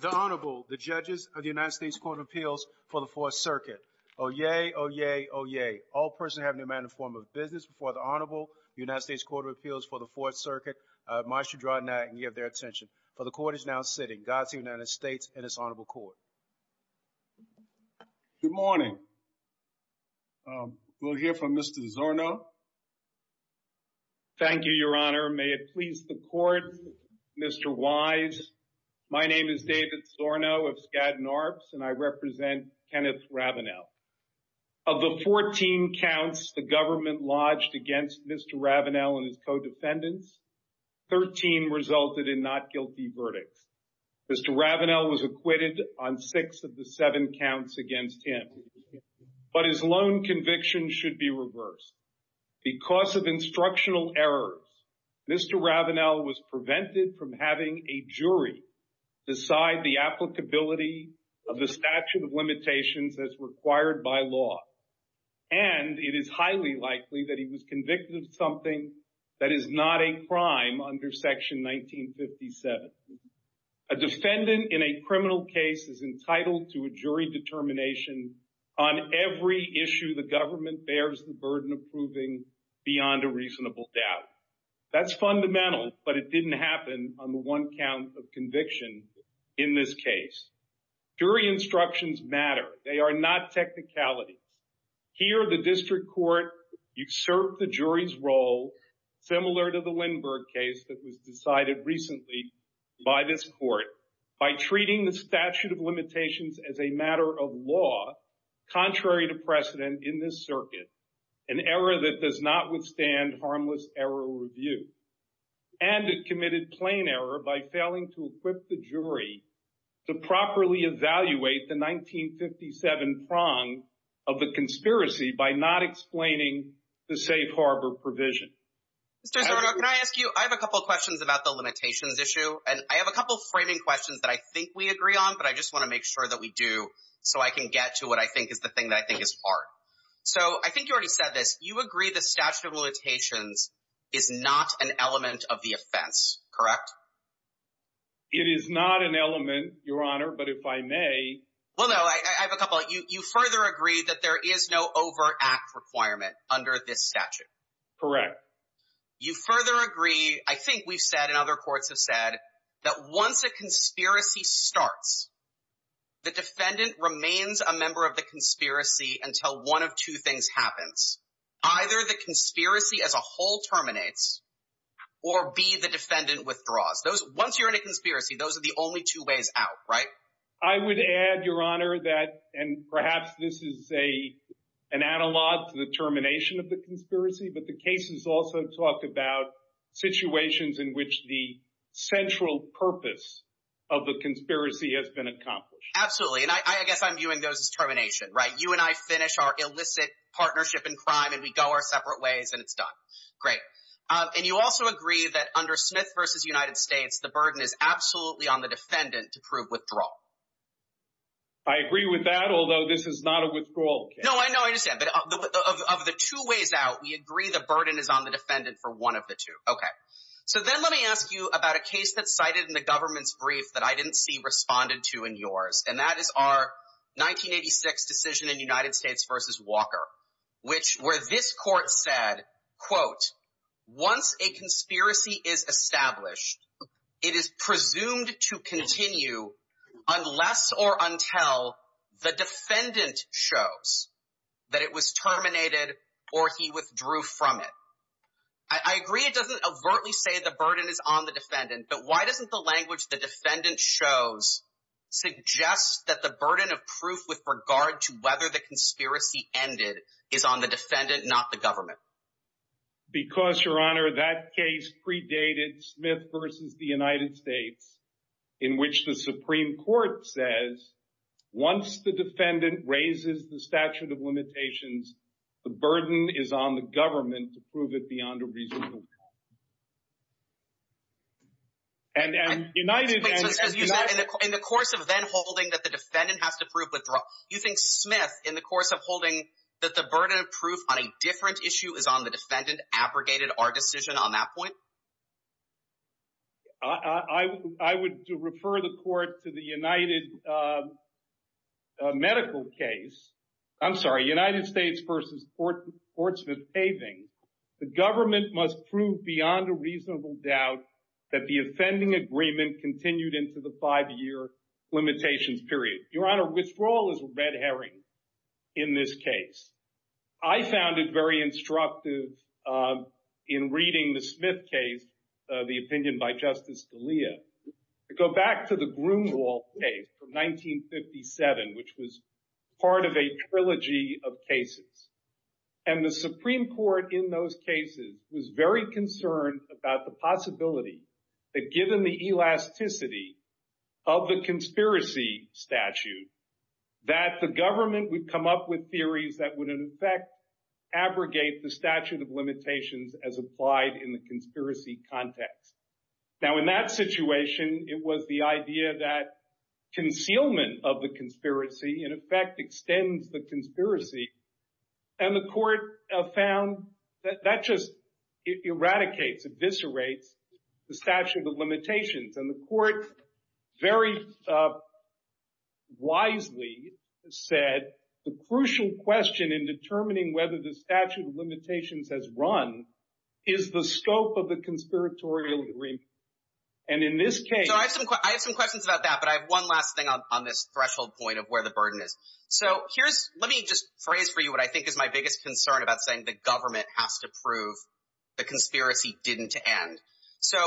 The Honorable, the Judges of the United States Court of Appeals for the Fourth Circuit. Oyez, oyez, oyez. All persons having a matter in the form of business before the Honorable United States Court of Appeals for the Fourth Circuit must withdraw now and give their attention, for the Court is now sitting. Godspeed to the United States and His Honorable Court. Good morning. We'll hear from Mr. Zorno. Thank you, Your Honor. Your Honor, may it please the Court, Mr. Wise, my name is David Zorno of Skadden Arcs, and I represent Kenneth Ravenell. Of the 14 counts the government lodged against Mr. Ravenell and his co-defendants, 13 resulted in not guilty verdict. Mr. Ravenell was acquitted on six of the seven counts against him, but his loan conviction should be reversed. Because of instructional errors, Mr. Ravenell was prevented from having a jury decide the applicability of the statute of limitations as required by law, and it is highly likely that he was convicted of something that is not a crime under Section 1957. A defendant in a criminal case is entitled to a jury determination on every issue the government bears the burden of proving beyond a reasonable doubt. That's fundamental, but it didn't happen on the one count of conviction in this case. Jury instructions matter. They are not technicality. Here the District Court usurped the jury's role, similar to the Lindbergh case that was decided recently by this Court, by treating the statute of limitations as a matter of law, contrary to precedent in this circuit, an error that does not withstand harmless error review, and it committed plain error by failing to equip the jury to properly evaluate the 1957 prong of the conspiracy by not explaining the safe harbor provision. Mr. Zyrdok, can I ask you, I have a couple of questions about the limitations issue, and I have a couple of framing questions that I think we agree on, but I just want to make sure that we do so I can get to what I think is the thing that I think is part. So I think you already said this. You agree that statute of limitations is not an element of the offense, correct? It is not an element, Your Honor, but if I may. Well, no, I have a couple. You further agree that there is no overact requirement under this statute. Correct. You further agree, I think we said and other courts have said, that once a conspiracy starts, the defendant remains a member of the conspiracy until one of two things happens. Either the conspiracy as a whole terminates or be the defendant withdraws. Once you're in a conspiracy, those are the only two ways out, right? I would add, Your Honor, that, and perhaps this is an analog to the termination of the conspiracy, but you also talk about situations in which the central purpose of the conspiracy has been accomplished. Absolutely. And I guess I'm viewing those as termination, right? You and I finish our illicit partnership in crime and we go our separate ways and it's done. Great. And you also agree that under Smith v. United States, the burden is absolutely on the defendant to prove withdrawal. I agree with that, although this is not a withdrawal case. No, I know. I understand. But of the two ways out, we agree the burden is on the defendant for one of the two. Okay. So then let me ask you about a case that's cited in the government's brief that I didn't see responded to in yours, and that is our 1986 decision in United States v. Walker, which where this court said, quote, once a conspiracy is established, it is presumed to continue unless or until the defendant shows that it was terminated or he withdrew from it. I agree it doesn't overtly say the burden is on the defendant, but why doesn't the language the defendant shows suggest that the burden of proof with regard to whether the conspiracy ended is on the defendant, not the government? Because, Your Honor, that case predated Smith v. United States, in which the Supreme Court says, once the defendant raises the statute of limitations, the burden is on the government to prove it beyond a reasonable doubt. And United States— In the course of then holding that the defendant has to prove withdrawal, do you think Smith, in the course of holding that the burden of proof on a different issue is on the defendant abrogated our decision on that point? I would refer the court to the United medical case—I'm sorry, United States v. Fort Smith-Having. The government must prove beyond a reasonable doubt that the offending agreement continued into the five-year limitation period. Your Honor, withdrawal is a red herring in this case. I found it very instructive in reading the Smith case, the opinion by Justice Scalia, to go back to the Grunewald case of 1957, which was part of a trilogy of cases. And the Supreme Court in those cases was very concerned about the possibility that given the elasticity of the conspiracy statute, that the government would come up with theories that would in effect abrogate the statute of limitations as applied in the conspiracy context. Now, in that situation, it was the idea that concealment of the conspiracy in effect extends the conspiracy, and the court found that that just eradicates, eviscerates the statute of limitations. And the court very wisely said the crucial question in determining whether the statute of limitations has run is the scope of the conspiratorial agreement. And in this case— I have some questions about that, but I have one last thing on this threshold point of where the burden is. So here's—let me just phrase for you what I think is my biggest concern about saying the government has to prove the conspiracy didn't end. So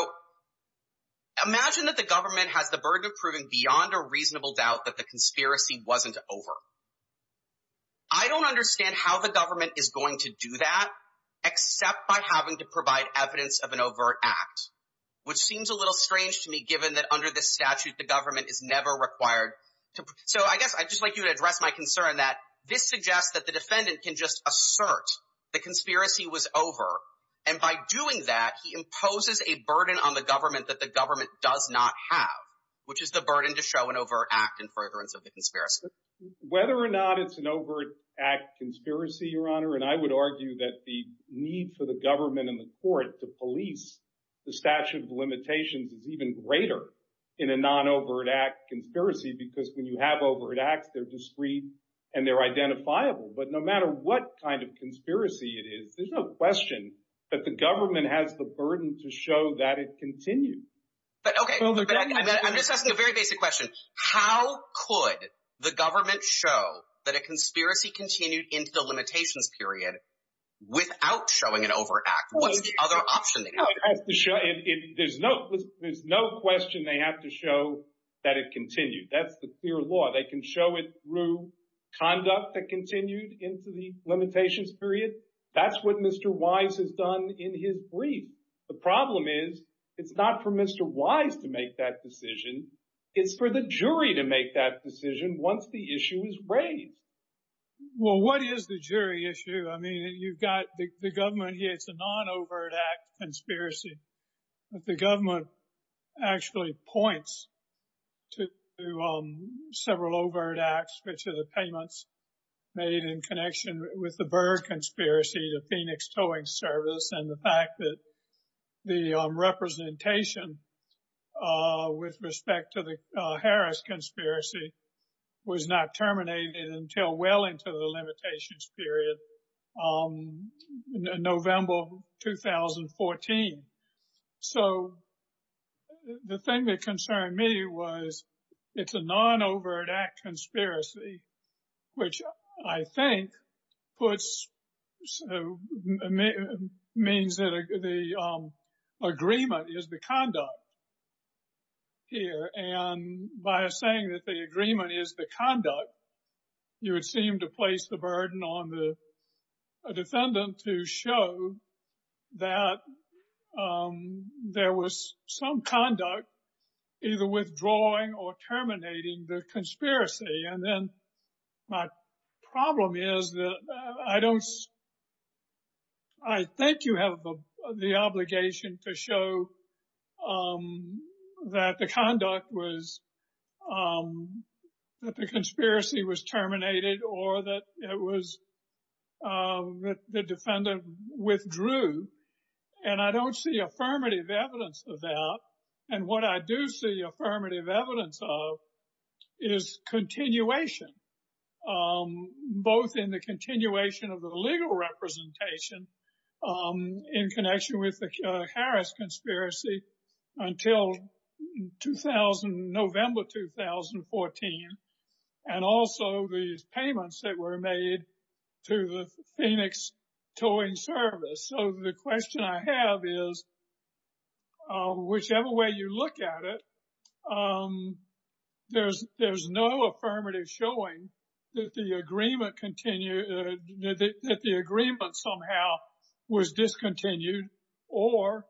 imagine that the government has the burden of proving beyond a reasonable doubt that the conspiracy wasn't over. I don't understand how the government is going to do that except by having to provide evidence of an overt act, which seems a little strange to me given that under this statute, the government is never required to— So I guess I'd just like you to address my concern that this suggests that the defendant can just assert the conspiracy was over, and by doing that, he imposes a burden on the government that the government does not have, which is the burden to show an overt act in furtherance of the conspiracy. Whether or not it's an overt act conspiracy, Your Honor, and I would argue that the need for the government and the court to police the statute of limitations is even greater in a non-overt act conspiracy, because when you have overt acts, they're discreet and they're identifiable. But no matter what kind of conspiracy it is, there's no question that the government has the burden to show that it continues. But, okay, I'm just asking a very basic question. How could the government show that a conspiracy continued into the limitations period without showing an overt act? What's the other option? There's no question they have to show that it continued. That's the clear law. They can show it through conduct that continued into the limitations period. That's what Mr. Wise has done in his brief. The problem is, it's not for Mr. Wise to make that decision. It's for the jury to make that decision once the issue is raised. Well, what is the jury issue? I mean, you've got the government, it's a non-overt act conspiracy, but the government actually points to several overt acts, which are the payments made in connection with the Byrd conspiracy, the Phoenix Towing Service, and the fact that the representation with respect to the Harris conspiracy was not terminated until well into the limitations period in November of 2014. So the thing that concerned me was it's a non-overt act conspiracy, which I think means that the agreement is the conduct here, and by saying that the agreement is the conduct, you would seem to place the burden on the defendant to show that there was some conduct either withdrawing or terminating the conspiracy, and then my problem is that I think you have the obligation to show that the conduct was, that the conspiracy was terminated or that it was, that the defendant withdrew, and I don't see affirmative evidence of that. And what I do see affirmative evidence of is continuation, both in the continuation of the legal representation in connection with the Harris conspiracy until November 2014, and also these payments that were made to the Phoenix Towing Service. So the question I have is, whichever way you look at it, there's no affirmative showing that the agreement continued, that the agreement somehow was discontinued or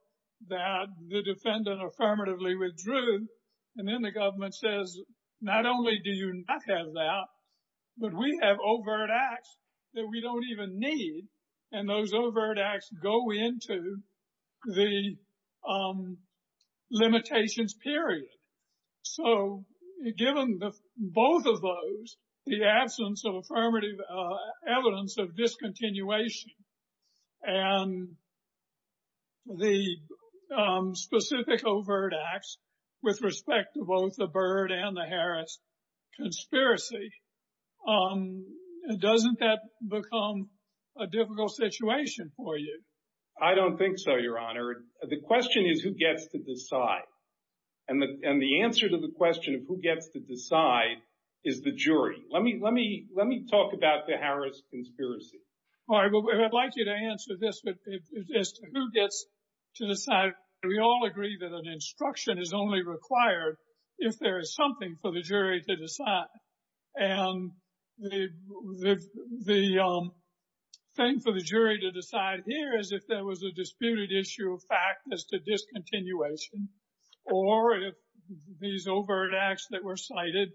that the defendant affirmatively withdrew, and then the government says, not only do you not have that, but we have overt acts that we don't even need, and those overt acts go into the limitations period. So given both of those, the absence of affirmative evidence of discontinuation and the specific overt acts with respect to both the Byrd and the Harris conspiracy, doesn't that become a difficult situation for you? I don't think so, Your Honor. The question is who gets to decide, and the answer to the question of who gets to decide is the jury. Let me talk about the Harris conspiracy. All right, well, I'd like you to answer this, but it's just who gets to decide. We all agree that an instruction is only required if there is something for the jury to decide, and the thing for the jury to decide here is if there was a disputed issue of fact as to discontinuation or if these overt acts that were cited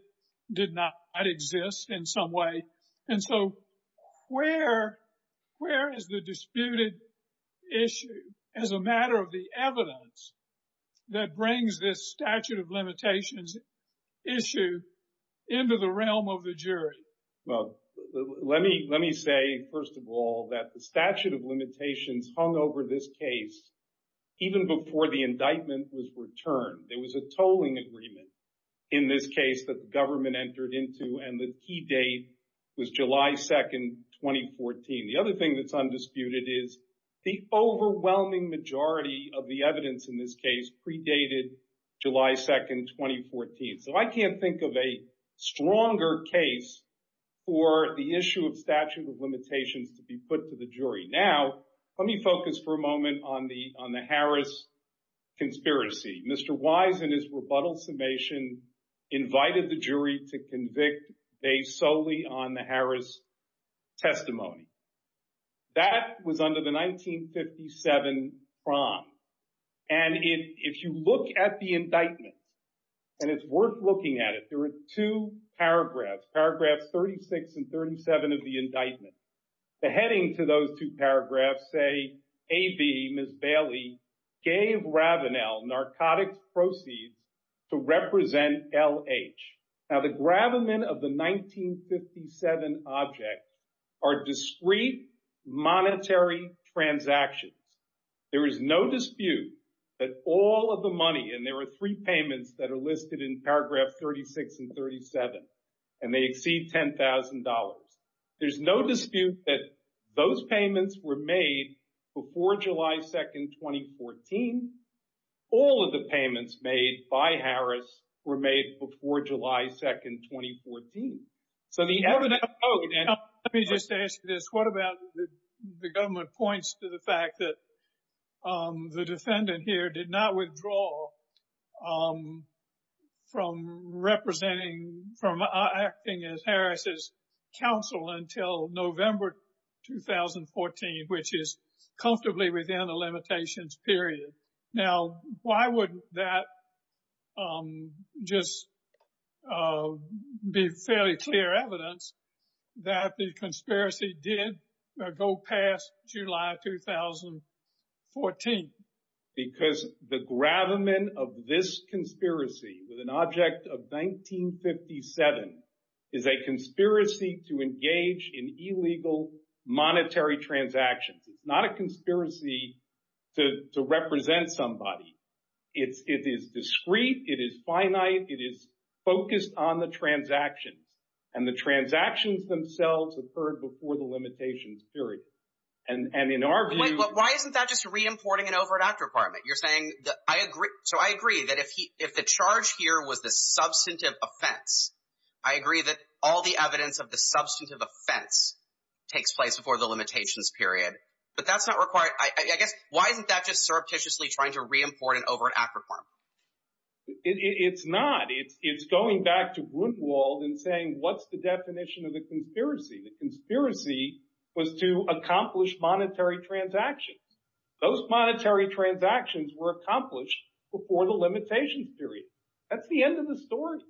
did not exist in some way. And so where is the disputed issue as a matter of the evidence that brings this statute of limitations issue into the realm of the jury? Well, let me say, first of all, that the statute of limitations hung over this case even before the indictment was returned. There was a tolling agreement in this case that the government entered into, and the key date was July 2nd, 2014. The other thing that's undisputed is the overwhelming majority of the evidence in this predated July 2nd, 2014. So I can't think of a stronger case for the issue of statute of limitations to be put to the jury. Now, let me focus for a moment on the Harris conspiracy. Mr. Wise, in his rebuttal summation, invited the jury to convict based solely on the Harris testimony. That was under the 1957 prompt. And if you look at the indictment, and it's worth looking at it, there are two paragraphs, paragraph 36 and 37 of the indictment. The heading to those two paragraphs say, A.V., Ms. Bailey, gave Ravenel narcotics proceeds to represent L.H. Now, the gravamen of the 1957 object are discrete monetary transactions. There is no dispute that all of the money, and there are three payments that are listed in paragraph 36 and 37, and they exceed $10,000. There's no dispute that those payments were made before July 2nd, 2014. All of the payments made by Harris were made before July 2nd, 2014. So the evidence... Let me just ask you this. What about the government points to the fact that the defendant here did not withdraw from representing, from acting as Harris's counsel until November 2014, which is comfortably within the limitations period? Now, why wouldn't that just be fairly clear evidence that the conspiracy did go past July 2014? Because the gravamen of this conspiracy with an object of 1957 is a conspiracy to engage in illegal monetary transactions. It's not a conspiracy to represent somebody. It is discrete. It is finite. It is focused on the transaction, and the transactions themselves occurred before the limitations period. And in our view... But why isn't that just reimporting an overdraft requirement? You're saying that... I agree. So I agree that if the charge here was a substantive offense, I agree that all the evidence of substantive offense takes place before the limitations period. But that's not required... I guess... Why isn't that just surreptitiously trying to reimport an overdraft requirement? It's not. It's going back to Grunwald and saying, what's the definition of a conspiracy? A conspiracy was to accomplish monetary transactions. Those monetary transactions were accomplished before the limitations period. That's the end of the story.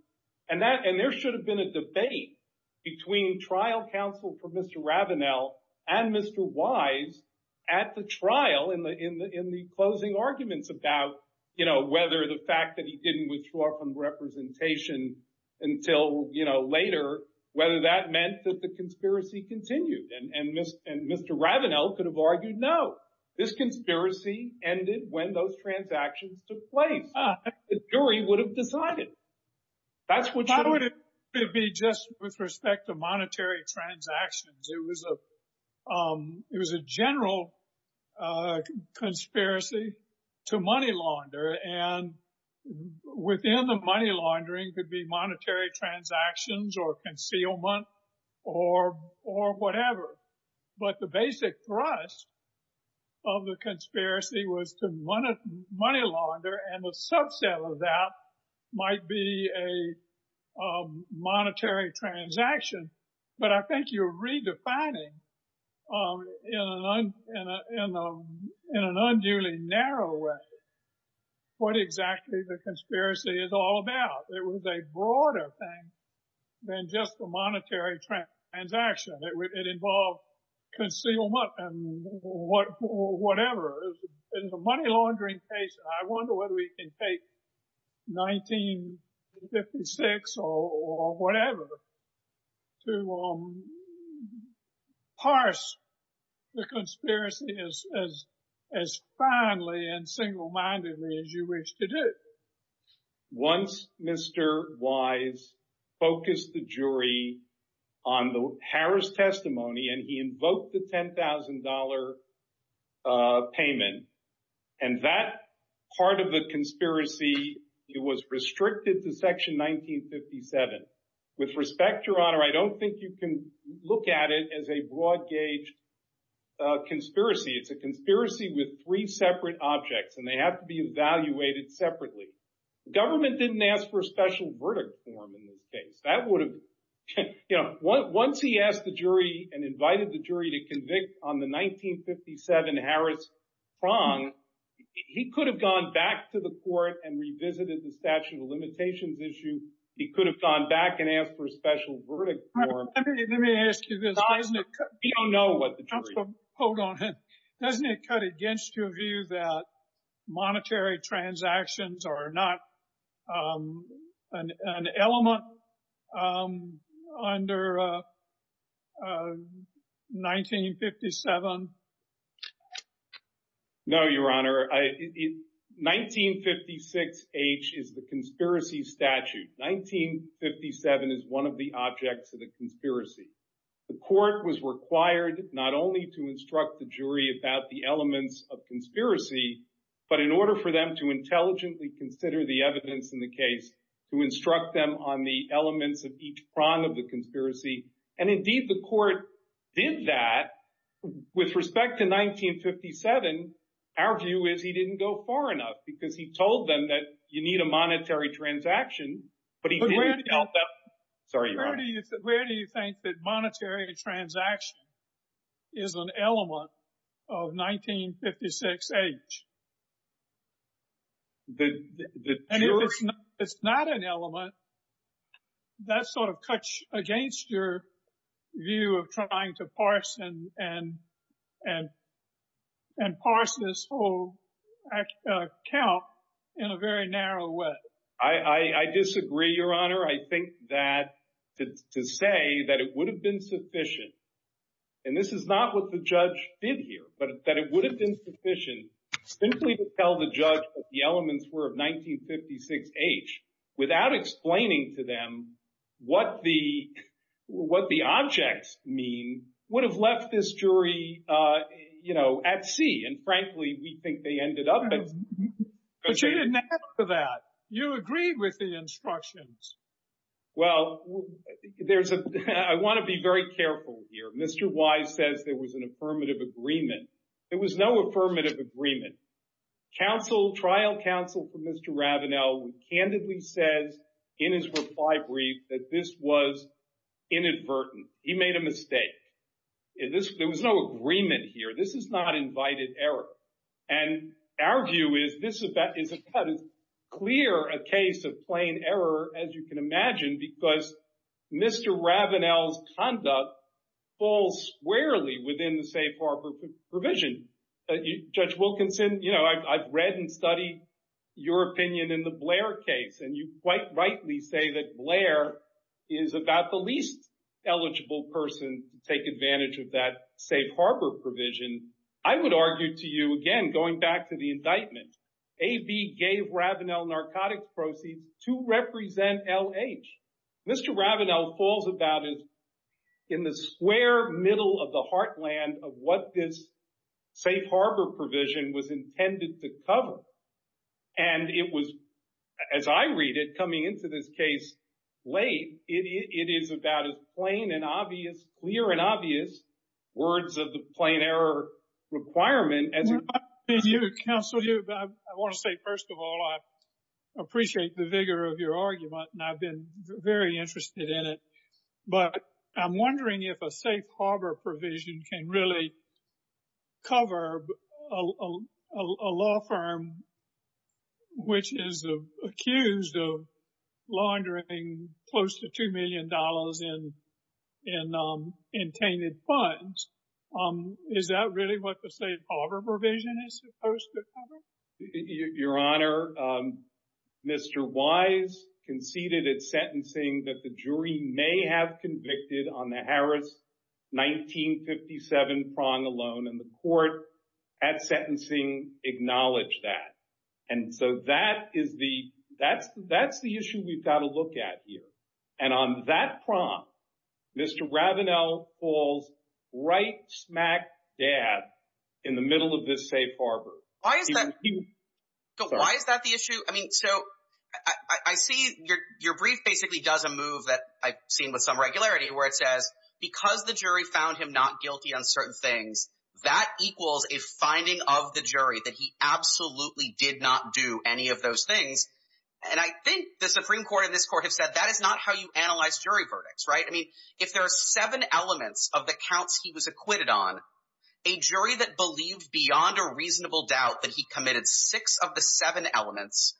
And there should have been a debate between trial counsel for Mr. Ravenel and Mr. Wise at the trial in the closing arguments about whether the fact that he didn't withdraw from representation until later, whether that meant that the conspiracy continued. And Mr. Ravenel could have argued, no, this conspiracy ended when those transactions took place. The jury would have decided. That would be just with respect to monetary transactions. It was a general conspiracy to money launder. And within the money laundering could be monetary transactions or concealment or whatever. But the basic thrust of the conspiracy was to money launder. And the subset of that might be a monetary transaction. But I think you're redefining in an unduly narrow way what exactly the conspiracy is all about. It was a broader thing than just a monetary transaction. It involved concealment and whatever. In the money laundering case, I wonder whether we can take 1956 or whatever to parse the conspiracy as fondly and single-mindedly as you wish to do. Once Mr. Wise focused the jury on the Harris testimony and he invoked the $10,000 payment, and that part of the conspiracy was restricted to section 1957. With respect, Your Honor, I don't think you can look at it as a broad-gauge conspiracy. It's a conspiracy with three separate objects. And they have to be evaluated separately. The government didn't ask for a special verdict for him in this case. That would have been—once he asked the jury and invited the jury to convict on the 1957 Harris wrong, he could have gone back to the court and revisited the statute of limitations issue. He could have gone back and asked for a special verdict for him. Let me ask you this. We don't know what the jury— Hold on. Doesn't it cut against your view that monetary transactions are not an element under 1957? No, Your Honor. 1956H is the conspiracy statute. 1957 is one of the objects of the conspiracy. The court was required not only to instruct the jury about the elements of conspiracy, but in order for them to intelligently consider the evidence in the case, to instruct them on the elements of each prong of the conspiracy. And indeed, the court did that. With respect to 1957, our view is he didn't go far enough because he told them that you need a monetary transaction, but he didn't tell them— Sorry, Your Honor. Where do you think that monetary transaction is an element of 1956H? It's not an element. That sort of cuts against your view of trying to parse and parse this whole count in a very narrow way. I disagree, Your Honor. I think that to say that it would have been sufficient—and this is not what the judge did here—but that it would have been sufficient simply to tell the judge what the elements were of 1956H without explaining to them what the objects mean would have left this jury at sea. And frankly, we think they ended up at sea. But you didn't answer that. You agreed with the instructions. Well, I want to be very careful here. Mr. Wise says there was an affirmative agreement. There was no affirmative agreement. Trial counsel for Mr. Ravenel candidly said in his reply brief that this was inadvertent. He made a mistake. There was no agreement here. This is not invited error. And our view is this is a clear case of plain error, as you can imagine, because Mr. Ravenel's conduct falls squarely within the safe harbor provision. Judge Wilkinson, I've read and studied your opinion in the Blair case, and you quite rightly say that Blair is about the least eligible person to take advantage of that safe harbor provision. I would argue to you, again, going back to the indictment, AB gave Ravenel narcotics proceeds to represent LH. Mr. Ravenel falls about as in the square middle of the heartland of what this safe harbor provision was intended to cover. And it was, as I read it, coming into this case late, it is about as plain and obvious, clear and obvious words of the plain error requirement. And you counsel, I want to say, first of all, I appreciate the vigor of your argument, and I've been very interested in it. But I'm wondering if a safe harbor provision can really cover a law firm which is accused of laundering close to $2 million in tainted funds. Is that really what the safe harbor provision is supposed to cover? Your Honor, Mr. Wise conceded at sentencing that the jury may have convicted on the Harris 1957 fraud alone, and the court at sentencing acknowledged that. And so that is the issue we've got to look at here. And on that prompt, Mr. Ravenel falls right smack dab in the middle of this safe harbor. Why is that the issue? I mean, so I see your brief basically does a move that I've seen with some regularity where it says because the jury found him not guilty on certain things, that equals a finding of the jury that he absolutely did not do any of those things. And I think the Supreme Court and this court have said that is not how you analyze jury verdicts, right? I mean, if there are seven elements of the counts he was acquitted on, a jury that believes beyond a reasonable doubt that he committed six of the seven elements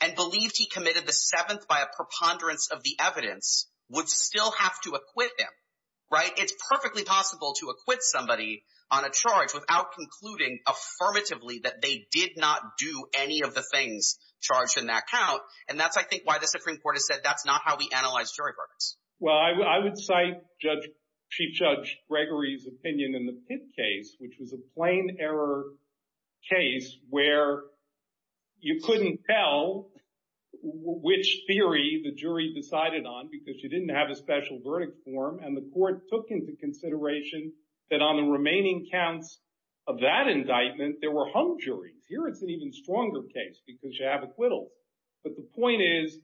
and believes he committed the seventh by a preponderance of the evidence would still have to acquit him, right? It's perfectly possible to acquit somebody on a charge without concluding affirmatively that they did not do any of the things charged in that count. And that's, I think, why the Supreme Court has said that's not how we analyze jury verdicts. Well, I would cite Chief Judge Gregory's opinion in the Pitt case, which was a plain error case where you couldn't tell which theory the jury decided on because she didn't have a special verdict form. And the court took into consideration that on the remaining counts of that indictment, there were home juries. Here, it's an even stronger case because you have acquittal. But the point is,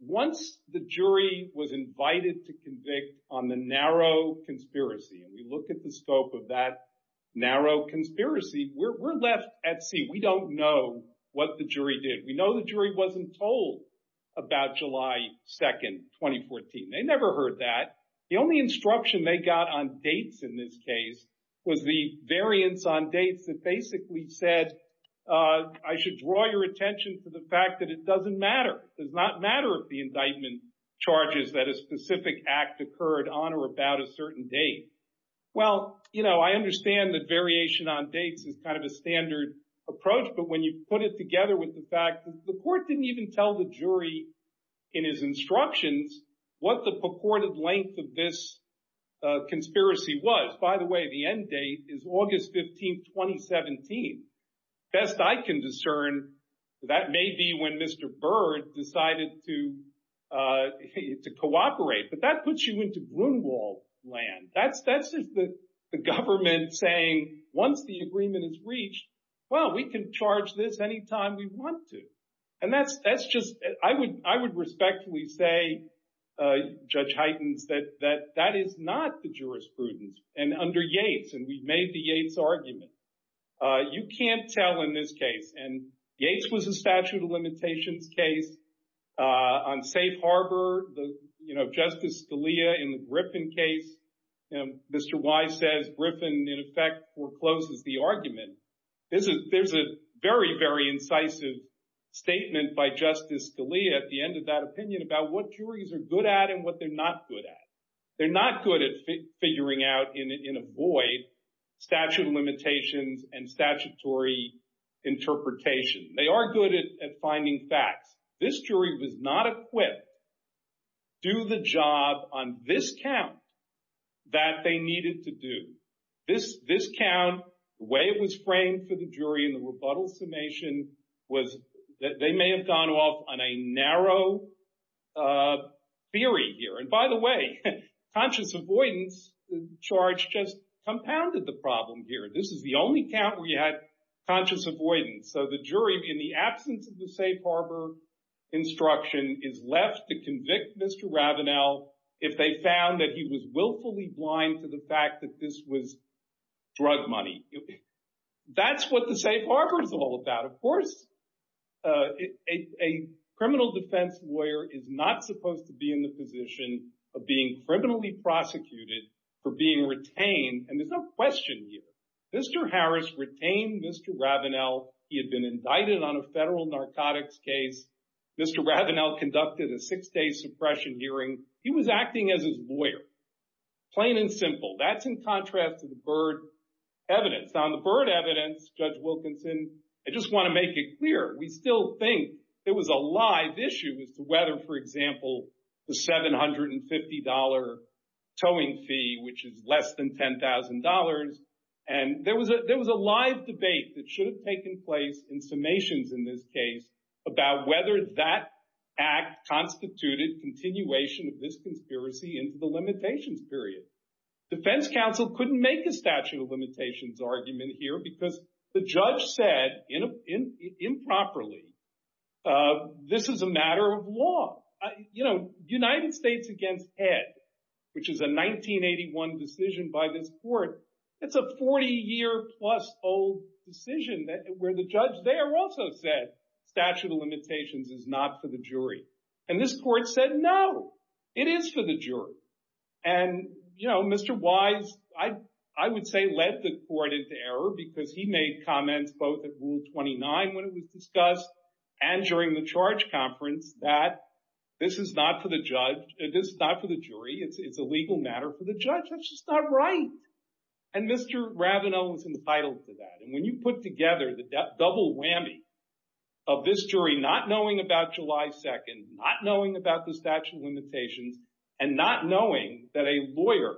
once the jury was invited to convict on the narrow conspiracy, and we look at the scope of that narrow conspiracy, we're left at sea. We don't know what the jury did. We know the jury wasn't told about July 2, 2014. They never heard that. The only instruction they got on dates in this case was the variance on dates that basically said, I should draw your attention to the fact that it doesn't matter. It does not matter if the indictment charges that a specific act occurred on or about a certain date. Well, I understand the variation on dates is kind of a standard approach. But when you put it together with the fact that the court didn't even tell the jury in his instructions what the purported length of this conspiracy was, by the way, the end date is August 15, 2017. Best I can discern, that may be when Mr. Byrd decided to cooperate. But that puts you into Grunewald land. That's just the government saying, once the agreement is reached, well, we can charge this any time we want to. And that's just, I would respectfully say, Judge Huygens, that that is not the jurisprudence. And under Yates, and we've made the Yates argument, you can't tell in this case. And Yates was a statute of limitations case. On Safe Harbor, Justice Scalia in the Griffin case, Mr. Whyte said Griffin, in effect, forecloses the argument. There's a very, very incisive statement by Justice Scalia at the end of that opinion about what juries are good at and what they're not good at. They're not good at figuring out in a void statute of limitations and statutory interpretation. They are good at finding facts. This jury was not equipped to do the job on this count that they needed to do. This count, the way it was framed for the jury in the rebuttal summation was that they may have gone off on a narrow theory here. And by the way, conscious avoidance charge just compounded the problem here. This is the only count where you had conscious avoidance. So the jury, in the absence of the Safe Harbor instruction, is left to convict Mr. Ravenel if they found that he was willfully blind to the fact that this was drug money. That's what the Safe Harbor is all about. Of course, a criminal defense lawyer is not supposed to be in the position of being criminally prosecuted for being retained. And there's no question here. Mr. Harris retained Mr. Ravenel. He had been invited on a federal narcotics case. Mr. Ravenel conducted a six-day suppression hearing. He was acting as his lawyer. Plain and simple. That's in contrast to the Byrd evidence. On the Byrd evidence, Judge Wilkinson, I just want to make it clear. We still think there was a live issue as to whether, for example, the $750 towing fee, which is less than $10,000, and there was a live debate that should have taken place in summations in this case about whether that act constituted continuation of this conspiracy into the limitations period. Defense counsel couldn't make a statute of limitations argument here because the judge said improperly, this is a matter of law. United States against Ed, which is a 1981 decision by this court, it's a 40-year-plus old decision where the judge there also said statute of limitations is not for the jury. And this court said, no, it is for the jury. And, you know, Mr. Wise, I would say, led the court into error because he made comments both at Rule 29 when it was discussed and during the charge conference that this is not for the judge, this is not for the jury, it's a legal matter for the judge. That's just not right. And Mr. Ravenel was entitled to that. And when you put together the double whammy of this jury not knowing about July 2nd, not knowing about the statute of limitations, and not knowing that a lawyer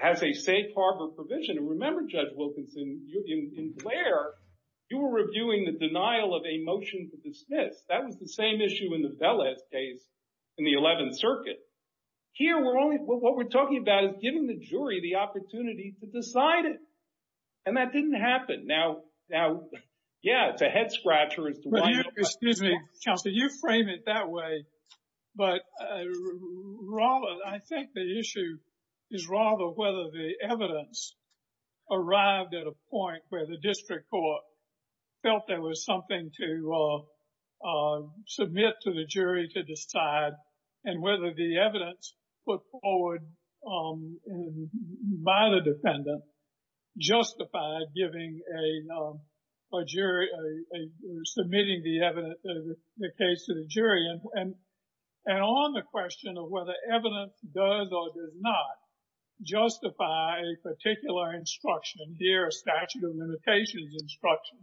has a safe harbor provision, and remember, Judge Wilkinson, in Blair, you were reviewing the denial of a motion to the Smiths. That was the same issue in the Velez case in the 11th Circuit. Here, what we're talking about is giving the jury the opportunity to decide it. And that didn't happen. Now, yeah, it's a head-scratcher. It's a one-off. Excuse me, counsel. You frame it that way. But I think the issue is rather whether the evidence arrived at a point where the district court felt there was something to submit to the jury to decide, and whether the evidence put forward by the defendant justified submitting the case to the jury. And on the question of whether evidence does or does not justify a particular instruction, here, a statute of limitations instruction,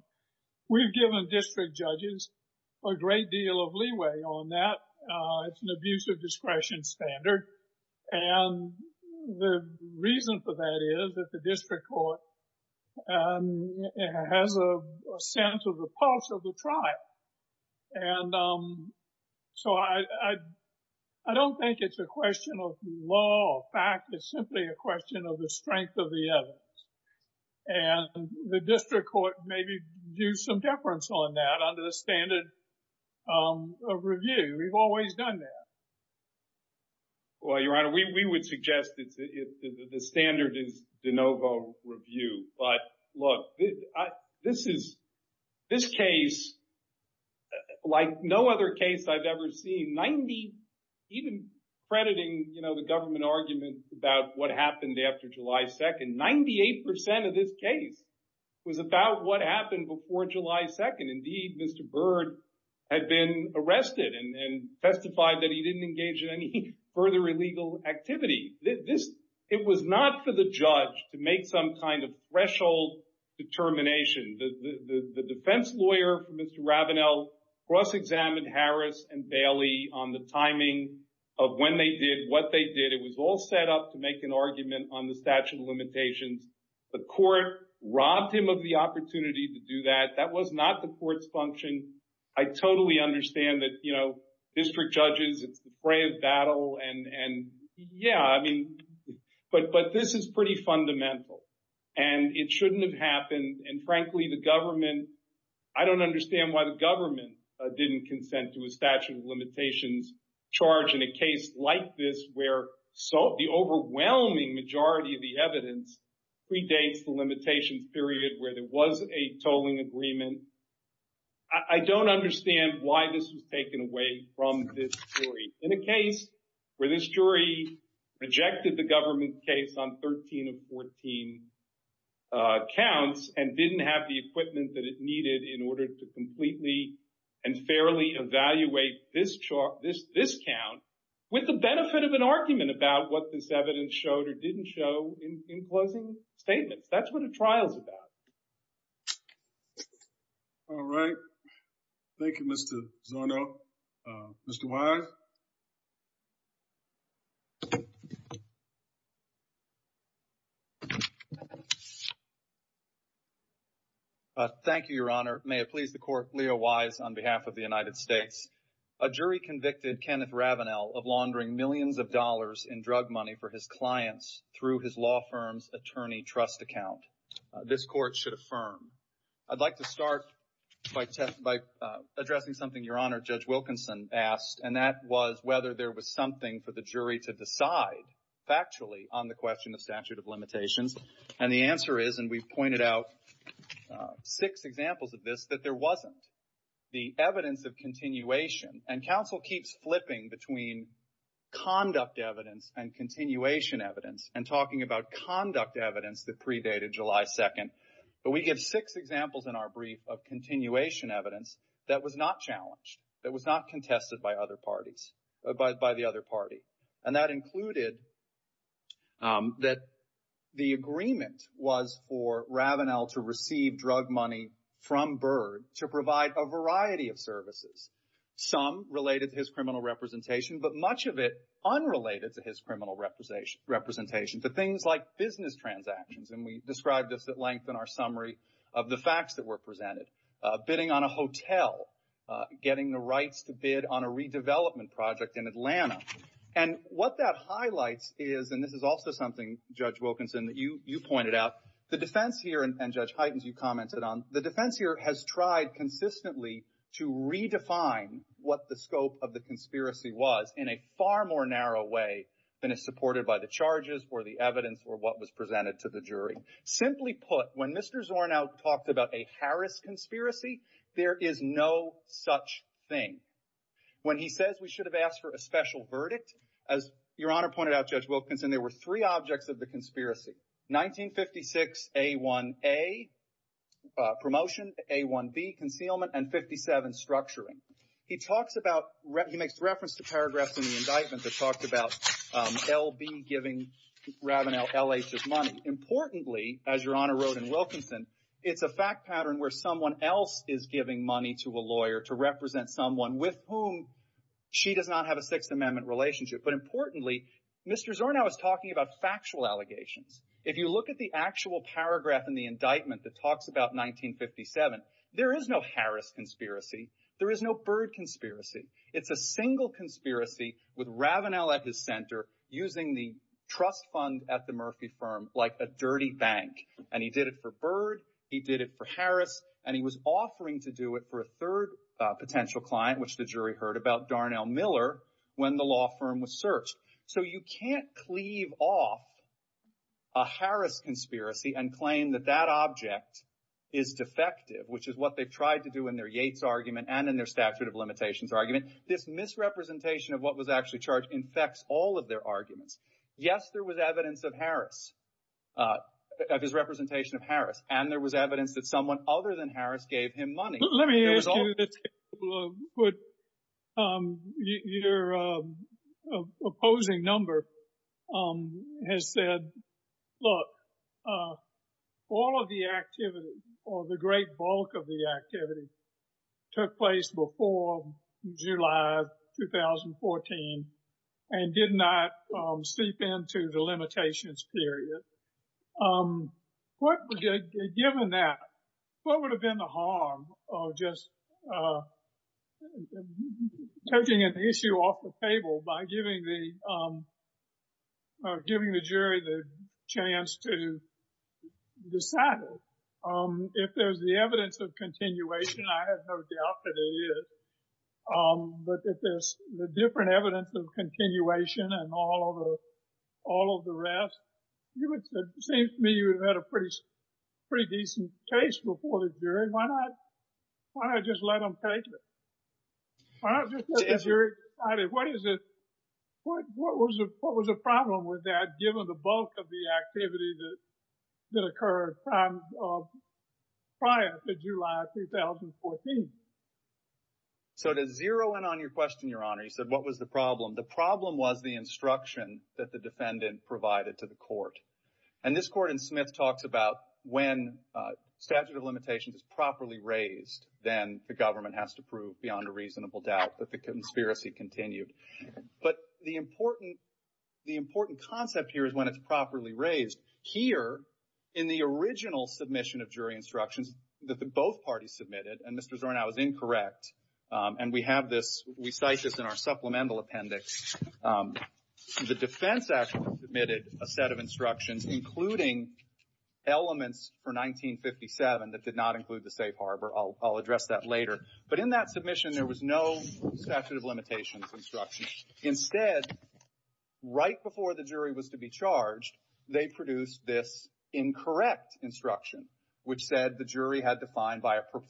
we've given district judges a great deal of leeway on that. It's an abuse of discretion standard. And the reason for that is that the district court has a sense of the parts of the trial. And so I don't think it's a question of law or fact. It's simply a question of the strength of the evidence. And the district court may do some deference on that under the standard of review. We've always done that. Well, Your Honor, we would suggest that the standard is de novo review. But look, this case, like no other case I've ever seen, even crediting the government argument about what happened after July 2nd, 98% of this case was about what happened before July 2nd. Indeed, Mr. Byrd had been arrested and testified that he didn't engage in any further illegal activity. It was not for the judge to make some kind of threshold determination. The defense lawyer for Mr. Ravenel cross-examined Harris and Bailey on the timing of when they did, what they did. It was all set up to make an argument on the statute of limitations. The court robbed him of the opportunity to do that. That was not the court's function. I totally understand that, you know, district judges, it's a fray of battle. And yeah, I mean, but this is pretty fundamental. And it shouldn't have happened. And frankly, the government, I don't understand why the government didn't consent to a statute of limitations charge in a case like this, where the overwhelming majority of the evidence predates the limitations period where there was a tolling agreement. I don't understand why this was taken away from this jury. In a case where this jury rejected the government's case on 13 and 14 counts and didn't have the equipment that it needed in order to completely and fairly evaluate this chart, this count, with the benefit of an argument about what this evidence showed or didn't show in closing statements. That's what a trial's about. All right. Thank you, Mr. Zono. Mr. Wise? Thank you, Your Honor. May it please the Court, Leo Wise on behalf of the United States. A jury convicted Kenneth Ravenel of laundering millions of dollars in drug money for his clients through his law firm's attorney trust account. This Court should affirm. I'd like to start by addressing something Your Honor, Judge Wilkinson asked, and that was whether there was something for the jury to decide factually on the question of statute of limitations. And the answer is, and we've pointed out six examples of this, that there wasn't. The evidence of continuation, and counsel keeps flipping between conduct evidence and continuation evidence and talking about conduct evidence that predated July 2nd, but we get six examples in our brief of continuation evidence that was not challenged, that was not contested by other parties, by the other party. And that included that the agreement was for Ravenel to receive drug money from Byrd to provide a variety of services, some related to his criminal representation, but much of it unrelated to his criminal representation, to things like business transactions, and we've described this at length in our summary of the facts that were presented, bidding on a hotel, getting the rights to bid on a redevelopment project in Atlanta. And what that highlights is, and this is also something, Judge Wilkinson, that you pointed out, the defense here, and Judge Heitens, you commented on, the defense here has tried consistently to redefine what the scope of the conspiracy was in a far more narrow way than is supported by the charges or the evidence or what was presented to the jury. Simply put, when Mr. Zornow talked about a Harris conspiracy, there is no such thing. When he says we should have asked for a special verdict, as Your Honor pointed out, Judge Wilkinson, there were three objects of the conspiracy. 1956, A1A, promotions, A1B, concealment, and 57, structuring. He talks about, he makes reference to paragraphs in the indictment that talked about LB giving Ravenel L.A. his money. Importantly, as Your Honor wrote in Wilkinson, it's a fact pattern where someone else is giving money to a lawyer to represent someone with whom she does not have a Sixth Amendment relationship. But importantly, Mr. Zornow is talking about factual allegations. If you look at the actual paragraph in the indictment that talks about 1957, there is no Harris conspiracy. There is no Byrd conspiracy. It's a single conspiracy with Ravenel at his center using the trust fund at the Murphy firm like a dirty bank. And he did it for Byrd. He did it for Harris. And he was offering to do it for a third potential client, which the jury heard about, Darnell Miller, when the law firm was searched. So you can't cleave off a Harris conspiracy and claim that that object is defective, which is what they tried to do in their Yates argument and in their statute of limitations argument. This misrepresentation of what was actually charged infects all of their arguments. Yes, there was evidence of Harris, of his representation of Harris. And there was evidence that someone other than Harris gave him money. Let me ask you, your opposing number has said, look, all of the activity or the great bulk of the activity took place before July 2014 and did not seep into the limitations period. Given that, what would have been the harm of just taking an issue off the table by giving the jury the chance to decide it? If there's the evidence of continuation, I have no doubt that there is, but if there's the different evidence of continuation and all of the rest, it seems to me you would have had a pretty decent case before this jury. Why not just let them take it? Why not just let the jury decide it? What was the problem with that, given the bulk of the activity that occurred at times prior to July 2014? So to zero in on your question, your honor, he said, what was the problem? The problem was the instruction that the defendant provided to the court. And this court in Smith talks about when statute of limitations is properly raised, then the government has to prove beyond a reasonable doubt that the conspiracy continued. But the important concept here is when it's properly raised. Here, in the original submission of jury instructions that the both parties submitted, and Mr. Zornow is incorrect, and we have this, we cite this in our supplemental appendix, the Defense Act submitted a set of instructions, including elements for 1957 that did not include the State Harbor. I'll address that later. But in that submission, there was no statute of limitations instruction. Instead, right before the jury was to be charged, they produced this incorrect instruction, which said the jury had to find,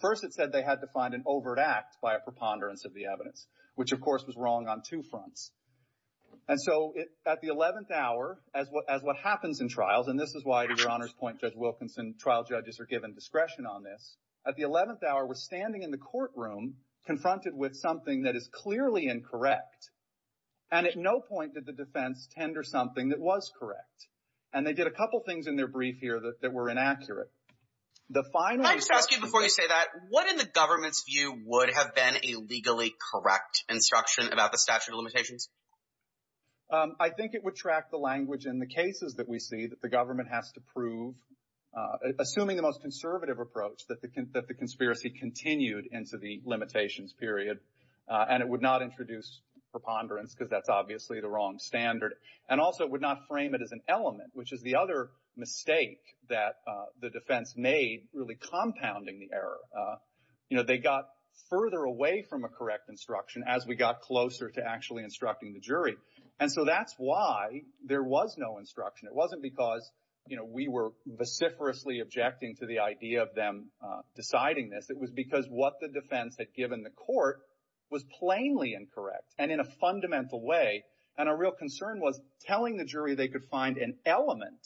first it said they had to find an overt act by a preponderance of the evidence, which of course was wrong on two fronts. And so at the 11th hour, as what happens in trials, and this is why, to your honor's point, Judge Wilkinson, trial judges are given discretion on this. At the 11th hour, we're standing in the courtroom confronted with something that is clearly incorrect. And at no point did the defense tender something that was correct. And they did a couple things in their brief here that were inaccurate. The final- I have a question before you say that. What, in the government's view, would have been a legally correct instruction about the statute of limitations? I think it would track the language in the cases that we see that the government has to prove, assuming the most conservative approach, that the conspiracy continued into the limitations period, and it would not introduce preponderance because that's obviously the wrong standard. And also, it would not frame it as an element, which is the other mistake that the defense made really compounding the error. They got further away from a correct instruction as we got closer to actually instructing the jury. And so that's why there was no instruction. It wasn't because we were vociferously objecting to the idea of them deciding this. It was because what the defense had given the court was plainly incorrect, and in a fundamental way. And our real concern was telling the jury they could find an element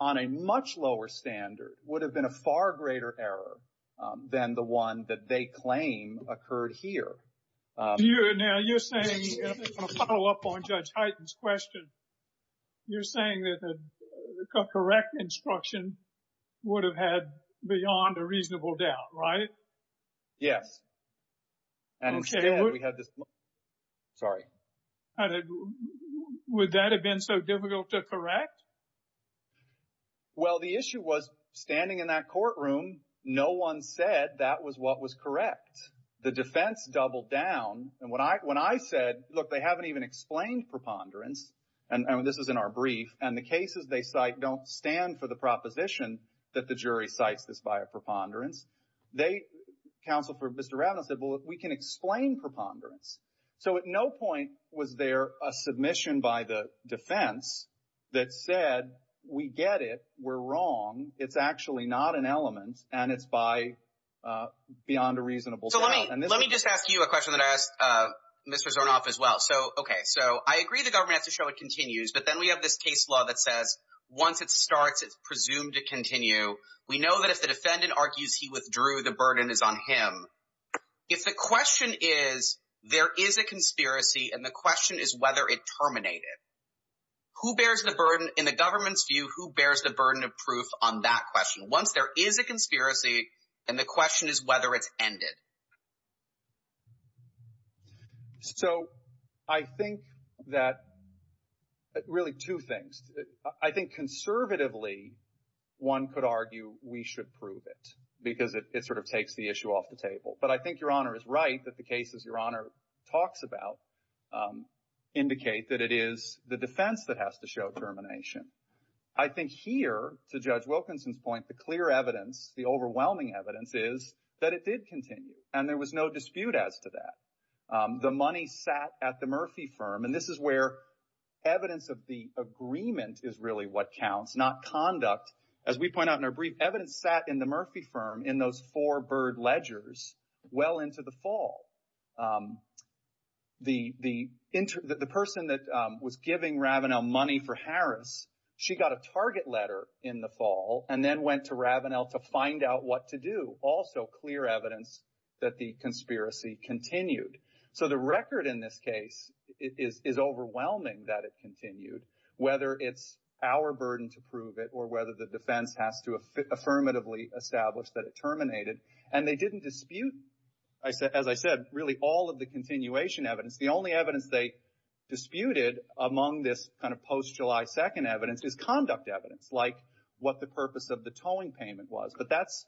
on a much lower standard would have been a far greater error than the one that they claim occurred here. Now, you're saying, to follow up on Judge Hyten's question, you're saying that a correct instruction would have had beyond a reasonable doubt, right? Yes. And we had this. Sorry. Would that have been so difficult to correct? Well, the issue was standing in that courtroom, no one said that was what was correct. The defense doubled down. And when I said, look, they haven't even explained preponderance, and this was in our brief, and the cases they cite don't stand for the proposition that the jury cites this by a counsel for Mr. Adams said, well, we can explain preponderance. So at no point was there a submission by the defense that said, we get it, we're wrong, it's actually not an element, and it's by beyond a reasonable doubt. Let me just ask you a question that I asked Mr. Zornoff as well. So, okay. So I agree the government has to show it continues, but then we have this case law that says, once it starts, it's presumed to continue. We know that if the defendant argues he withdrew, the burden is on him. If the question is, there is a conspiracy, and the question is whether it terminated, who bears the burden? In the government's view, who bears the burden of proof on that question? Once there is a conspiracy, and the question is whether it's ended. So I think that really two things. I think conservatively, one could argue we should prove it because it sort of takes the issue off the table. But I think Your Honor is right that the cases Your Honor talks about indicate that it is the defense that has to show termination. I think here, to Judge Wilkinson's point, the clear evidence, the overwhelming evidence is that it did continue, and there was no dispute as to that. The money sat at the Murphy firm, and this is where evidence of the agreement is really what counts, not conduct. As we point out in our brief, evidence sat in the Murphy firm in those four Byrd ledgers well into the fall. The person that was giving Ravenel money for Harris, she got a target letter in the fall, and then went to Ravenel to find out what to do. Also clear evidence that the conspiracy continued. So the record in this case is overwhelming that it continued, whether it's our burden to prove it or whether the defense has to affirmatively establish that it terminated. And they didn't dispute, as I said, really all of the continuation evidence. The only evidence they disputed among this kind of post-July 2nd evidence is conduct evidence, like what the purpose of the tolling payment was. But that's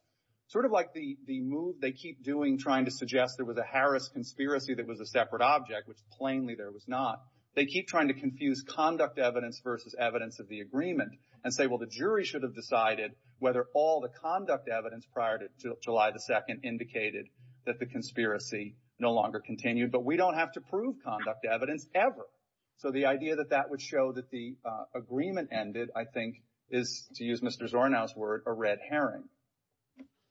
sort of like the move they keep doing trying to suggest there was a Harris conspiracy that was a separate object, which plainly there was not. They keep trying to confuse conduct evidence versus evidence of the agreement and say, well, the jury should have decided whether all the conduct evidence prior to July 2nd indicated that the conspiracy no longer continued. But we don't have to prove conduct evidence ever. So the idea that that would show that the agreement ended, I think, is, to use Mr. Arnaud's word, a red herring.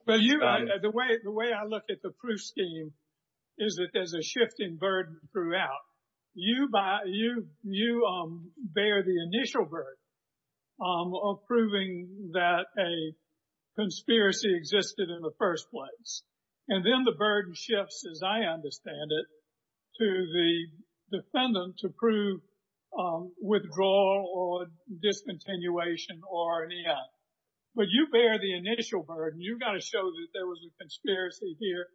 MR. The way I look at the proof scheme is that there's a shifting burden throughout. You bear the initial burden of proving that a conspiracy existed in the first place. And then the burden shifts, as I understand it, to the defendant to prove withdrawal or discontinuation or an E.S. But you bear the initial burden. You've got to show that there was a conspiracy here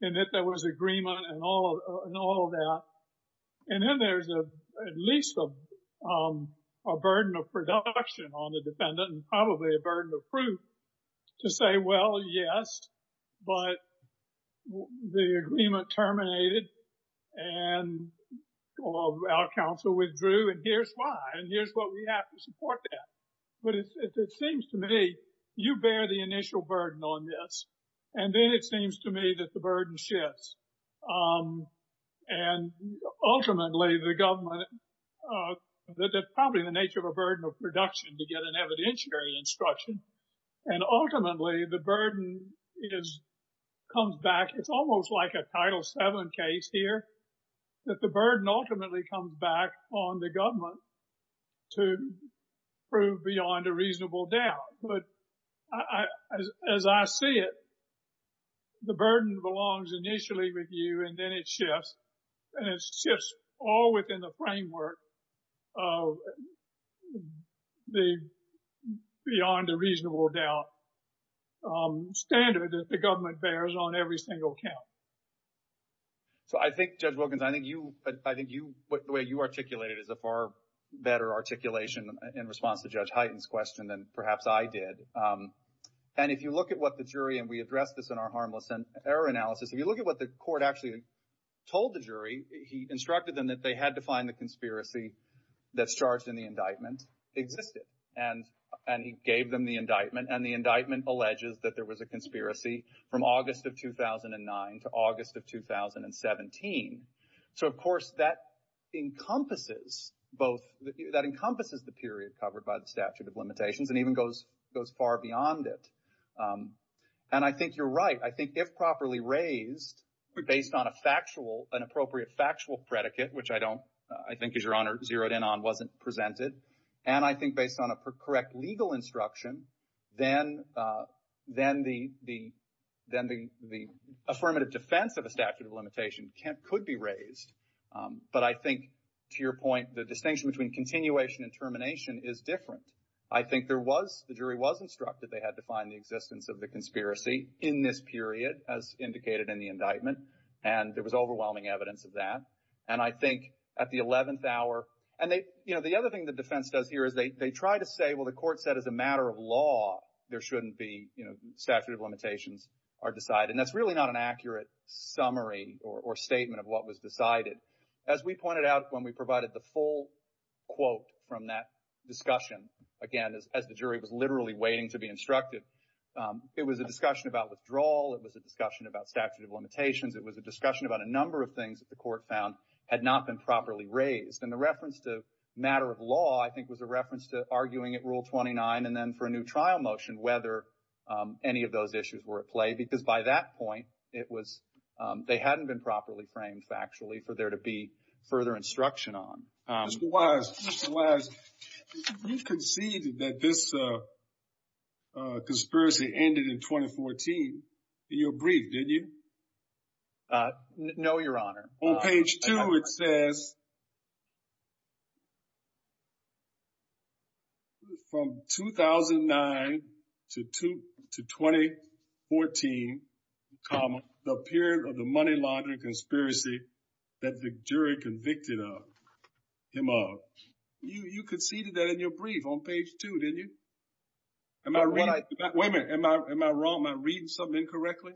and that there was agreement and all of that. And then there's at least a burden of production on the defendant and probably a burden of proof to say, well, yes, but the agreement terminated and our counsel withdrew. And here's why. Here's what we have to support that. But it seems to me you bear the initial burden on this. And then it seems to me that the burden shifts. And ultimately, the government, that's probably the nature of a burden of production to get an evidentiary instruction. And ultimately, the burden comes back. It's almost like a Title VII case here, that the burden ultimately comes back on the government to prove beyond a reasonable doubt. But as I see it, the burden belongs initially with you, and then it shifts. And it shifts all within the framework of the beyond a reasonable doubt standard that the government bears on every single count. So I think, Judge Wilkins, I think the way you articulated it is a far better articulation in response to Judge Hyten's question than perhaps I did. And if you look at what the jury, and we addressed this in our harmless error analysis, if you look at what the court actually told the jury, he instructed them that they had to find the conspiracy that's charged in the indictment existed. And he gave them the indictment, and the indictment alleges that there was a conspiracy from August of 2009 to August of 2017. So, of course, that encompasses both, that encompasses the period covered by the statute of limitations, and even goes far beyond it. And I think you're right. I think if properly raised, based on a factual, an appropriate factual predicate, which I don't, I think, Your Honor, zeroed in on wasn't presented, and I think based on a correct legal instruction, then the affirmative defense of the statute of limitation could be raised. But I think, to your point, the distinction between continuation and termination is different. I think there was, the jury was instructed they had to find the existence of the conspiracy in this period, as indicated in the indictment, and there was overwhelming evidence of that. And I think at the 11th hour, and they, you know, the other thing the defense does here is they try to say, well, the court said as a matter of law, there shouldn't be, you know, statute of limitations are decided. And that's really not an accurate summary or statement of what was decided. As we pointed out when we provided the full quote from that discussion, again, as the jury was literally waiting to be instructed, it was a discussion about withdrawal, it was a discussion about statute of limitations, it was a discussion about a number of things that the court found had not been properly raised. And the reference to matter of law, I think, was a reference to arguing at Rule 29, and then for a new trial motion, whether any of those issues were at play. Because by that point, it was, they hadn't been properly framed factually for there to be further instruction on. Mr. Wise, Mr. Wise, you conceded that this conspiracy ended in 2014. You agreed, didn't you? No, Your Honor. On page 2, it says, from 2009 to 2014, the period of the money laundering conspiracy that the jury convicted him of. You conceded that in your brief on page 2, didn't you? Wait a minute, am I wrong? Am I reading something incorrectly?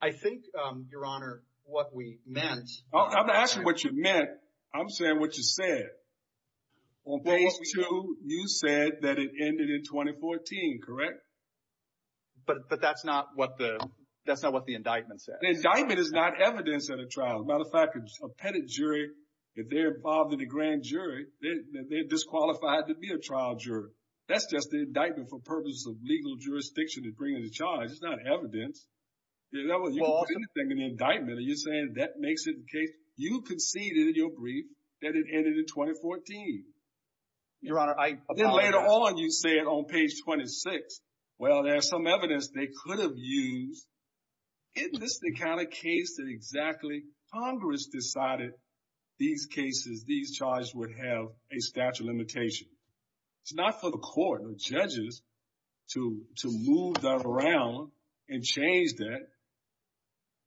I think, Your Honor, what we meant… I'm not asking what you meant, I'm saying what you said. On page 2, you said that it ended in 2014, correct? But that's not what the indictment said. The indictment is not evidence at a trial. As a matter of fact, a petted jury, if they're involved in a grand jury, they're disqualified to be a trial jury. That's just the indictment for purposes of legal jurisdiction in bringing the charge. It's not evidence. The indictment, are you saying that makes it in case… You conceded in your brief that it ended in 2014. Your Honor, I… Then later on, you say it on page 26. Well, there's some evidence they could have used. Isn't this the kind of case that exactly Congress decided these cases, these charges would have a statute of limitations? It's not for the court or judges to move that around and change that.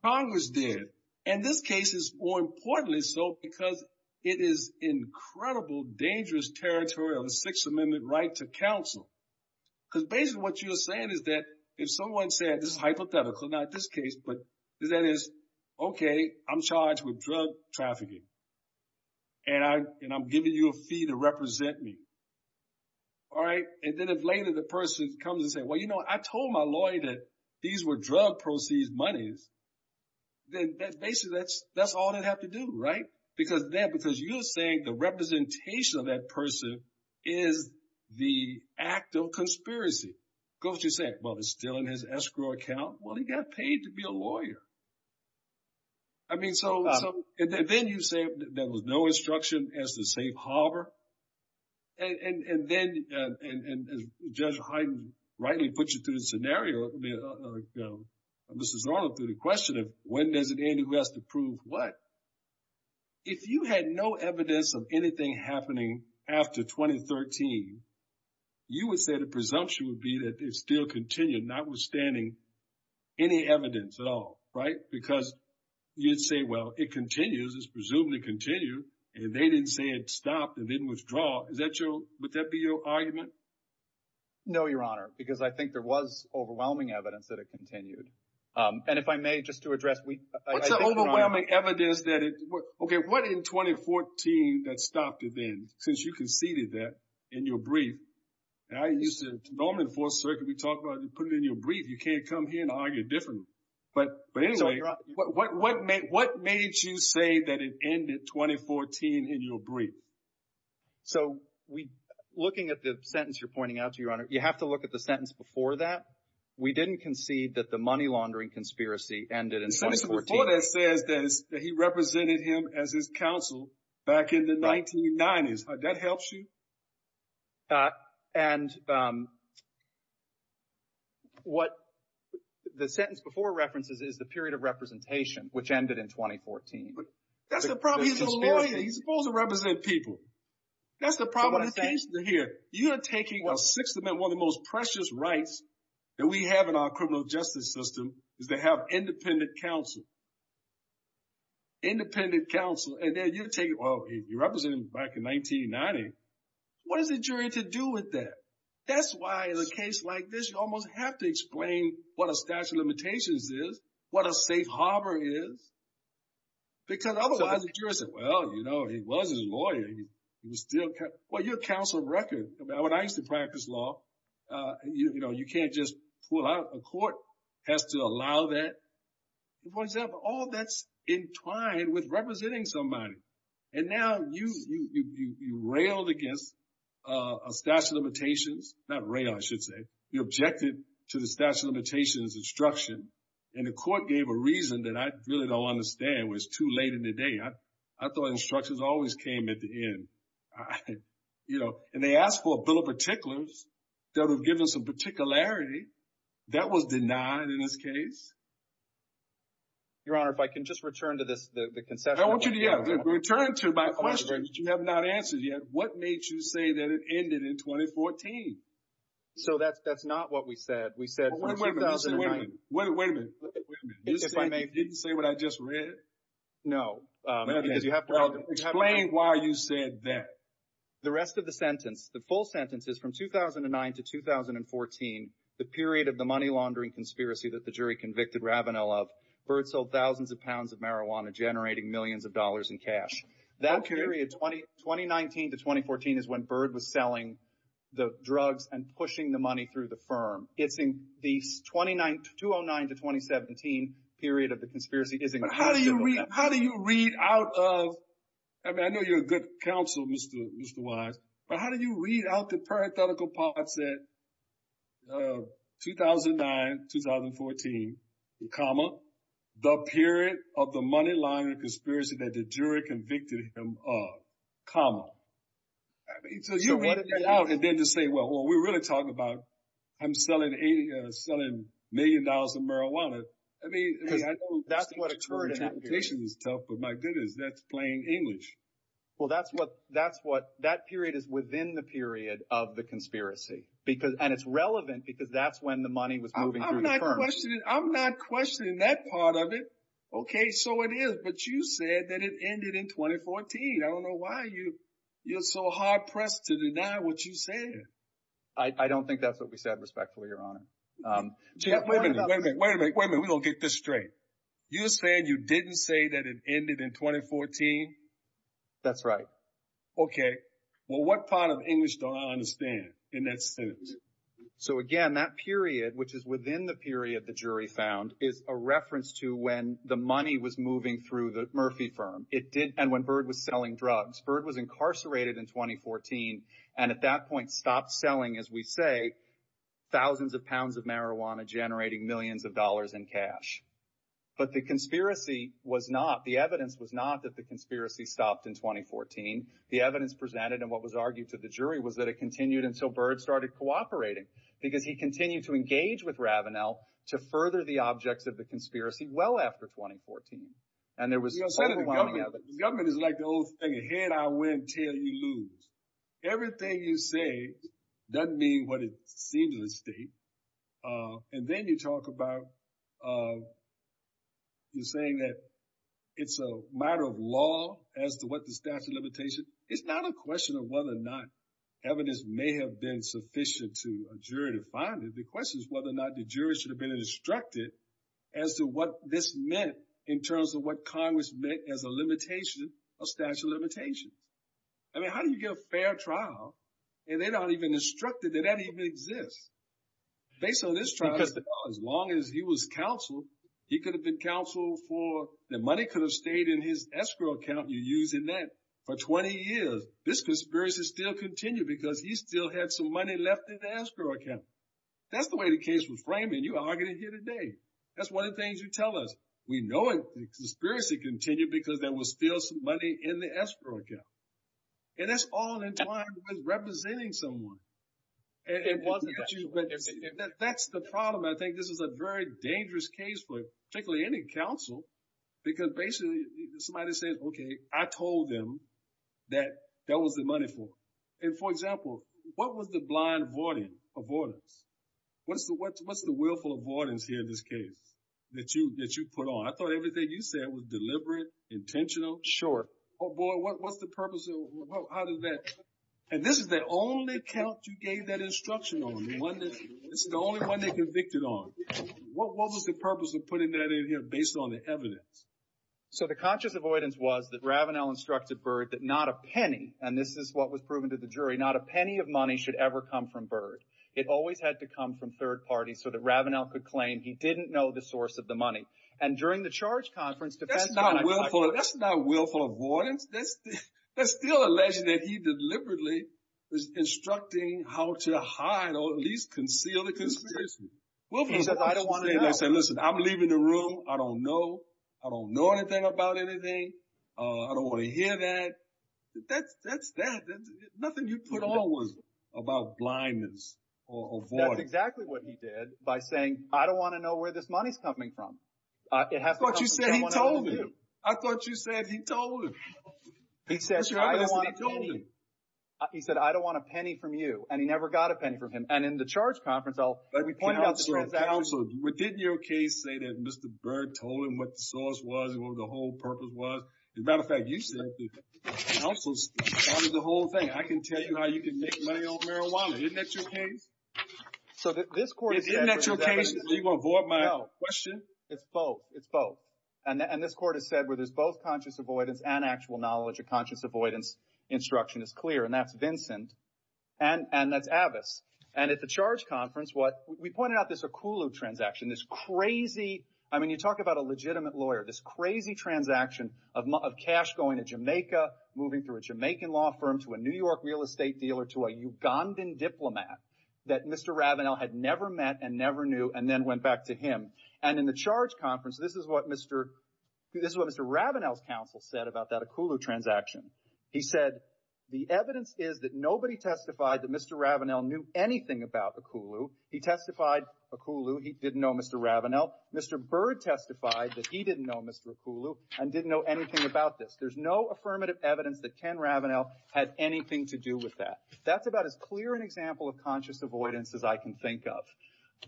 Congress did. And this case is more importantly so because it is incredible, dangerous territory of a Sixth Amendment right to counsel. Because basically what you're saying is that if someone said, this is hypothetical, not this case, but that is, okay, I'm charged with drug trafficking, and I'm giving you a fee to represent me, all right? And then as later the person comes and says, well, you know, I told my lawyer that these were drug proceeds, monies. Then basically that's all they'd have to do, right? Because then, because you're saying the representation of that person is the act of conspiracy. Goes to say, well, it's still in his escrow account. Well, he got paid to be a lawyer. I mean, so, and then you say there was no instruction as to safe harbor. And then Judge Hyden rightly put you through the scenario, Mrs. Norland, through the question of when does it end, who has to prove what? If you had no evidence of anything happening after 2013, you would say the presumption would be that it still continued, notwithstanding any evidence at all, right? Because you'd say, well, it continues. It's presumed to continue. And they didn't say it stopped and didn't withdraw. Is that your, would that be your argument? No, Your Honor, because I think there was overwhelming evidence that it continued. And if I may, just to address, we- It's overwhelming evidence that it, okay, what in 2014 that stopped it then? Because you conceded that in your brief. And I used to, normally in the Fourth Circuit, we talk about you put it in your brief. You can't come here and argue differently. But anyway, what made you say that it ended 2014 in your brief? So we, looking at the sentence you're pointing out to, Your Honor, you have to look at the sentence before that. We didn't concede that the money laundering conspiracy ended in 2014. The sentence before that says that he represented him as his counsel back in the 1990s. That helps you? And what the sentence before references is the period of representation, which ended in 2014. That's the problem. He's a lawyer. He's supposed to represent people. That's the problem. But what I'm interested to hear, you are taking, well, one of the most precious rights that we have in our criminal justice system is to have independent counsel. Independent counsel. And then you take, well, he represented him back in 1990. What does a jury have to do with that? That's why, in a case like this, you almost have to explain what a statute of limitations is, what a safe harbor is. Because otherwise, the jury's like, well, you know, he was a lawyer. Well, you're a counsel of record. When I used to practice law, you can't just pull out. A court has to allow that. For example, all that's entwined with representing somebody. And now you railed against a statute of limitations. Not rail, I should say. You objected to the statute of limitations instruction. And the court gave a reason that I really don't understand. It was too late in the day. I thought instructions always came at the end. And they asked for a bill of particulars that would give us a particularity. That was denied in this case. Your Honor, if I can just return to this, the concession. I want you to return to my question, which you have not answered yet. What made you say that it ended in 2014? So that's not what we said. We said 2009. Wait a minute, wait a minute. You didn't say what I just read? No. Explain why you said that. The rest of the sentence, the full sentence, is from 2009 to 2014, the period of the money convicted Ravenel of Byrd sold thousands of pounds of marijuana, generating millions of dollars in cash. That period, 2019 to 2014, is when Byrd was selling the drugs and pushing the money through the firm. It's in the 2009 to 2017 period of the conspiracy. But how do you read out of – I mean, I know you're a good counsel, Mr. Wise. But how do you read out the parenthetical part that 2009 to 2014, comma, the period of the money laundering conspiracy that the jury convicted him of, comma? You read that out and then just say, well, we're really talking about I'm selling million dollars in marijuana. I mean, I know interpretation is tough, but my goodness, that's plain English. Well, that's what – that period is within the period of the conspiracy. And it's relevant because that's when the money was moving through the firm. I'm not questioning that part of it. Okay, so it is. But you said that it ended in 2014. I don't know why you're so hard-pressed to deny what you said. I don't think that's what we said respectfully, Your Honor. Jeff, wait a minute. Wait a minute. Wait a minute. We don't get this straight. You said you didn't say that it ended in 2014? That's right. Okay. Well, what part of English do I understand in that sentence? So, again, that period, which is within the period the jury found, is a reference to when the money was moving through the Murphy firm. It did – and when Byrd was selling drugs. Byrd was incarcerated in 2014 and at that point stopped selling, as we say, thousands of pounds of marijuana generating millions of dollars in cash. But the conspiracy was not – the evidence was not that the conspiracy stopped in 2014. The evidence presented and what was argued to the jury was that it continued until Byrd started cooperating, because he continued to engage with Ravenell to further the object of the conspiracy well after 2014. And there was – Your Honor, the government is like the old saying, head I win, tail you lose. Everything you say doesn't mean what it seems to say. And then you talk about the saying that it's a matter of law as to what the statute of limitation – it's not a question of whether or not evidence may have been sufficient to a jury to find it. The question is whether or not the jury should have been instructed as to what this meant in terms of what Congress meant as a limitation, a statute of limitation. I mean, how do you get a fair trial and they're not even instructed that that even exists? Based on this trial, as long as he was counseled, he could have been counseled for – the money could have stayed in his escrow account and used in that for 20 years. This conspiracy still continued because he still had some money left in the escrow account. That's the way the case was framed, and you argued it here today. That's one of the things you tell us. We know the conspiracy continued because there was still some money in the escrow account. And that's all in time with representing someone. And that's the problem. I think this is a very dangerous case for particularly any counsel, because basically somebody said, okay, I told them that that was the money for. And for example, what was the blind avoidance? What's the willful avoidance here in this case that you put on? I thought everything you said was deliberate, intentional, short. Oh, boy, what's the purpose of – how does that – and this is the only count you gave that instruction on, the one that – this is the only one they convicted on. What was the purpose of putting that in here based on the evidence? So the conscious avoidance was that Ravenel instructed Byrd that not a penny – and this is what was proven to the jury – not a penny of money should ever come from Byrd. It always had to come from third parties so that Ravenel could claim he didn't know the source of the money. And during the charge conference – That's not willful – that's not willful avoidance. That's still alleging that he deliberately was instructing how to hide or at least conceal the conspiracy. He said, I don't want to know. Listen, I'm leaving the room. I don't know. I don't know anything about anything. I don't want to hear that. That's – nothing you put on was about blindness or avoidance. That's exactly what he did by saying, I don't want to know where this money's coming from. It has to come from someone else. I thought you said he told him. I thought you said he told him. He said, I don't want a penny from you. And he never got a penny from him. And in the charge conference, I'll – Counselor, didn't your case say that Mr. Byrd told him what the source was, what the whole purpose was? As a matter of fact, you said that counsels – that was the whole thing. I can tell you how you can make money on marijuana. Isn't that your case? So this court – Isn't that your case? You want to void my question? It's both. It's both. And this court has said where there's both conscience avoidance and actual knowledge of conscience avoidance. Instruction is clear. And that's Vincent. And that's Avis. And at the charge conference, what – we pointed out this Akulu transaction. This crazy – I mean, you talk about a legitimate lawyer. This crazy transaction of cash going to Jamaica, moving to a Jamaican law firm, to a New York real estate dealer, to a Ugandan diplomat that Mr. Ravenel had never met and never knew and then went back to him. And in the charge conference, this is what Mr. Ravenel's counsel said about that Akulu transaction. He said, the evidence is that nobody testified that Mr. Ravenel knew anything about Akulu. He testified Akulu. He didn't know Mr. Ravenel. Mr. Byrd testified that he didn't know Mr. Akulu and didn't know anything about this. There's no affirmative evidence that Ken Ravenel had anything to do with that. That's about as clear an example of conscience avoidance as I can think of.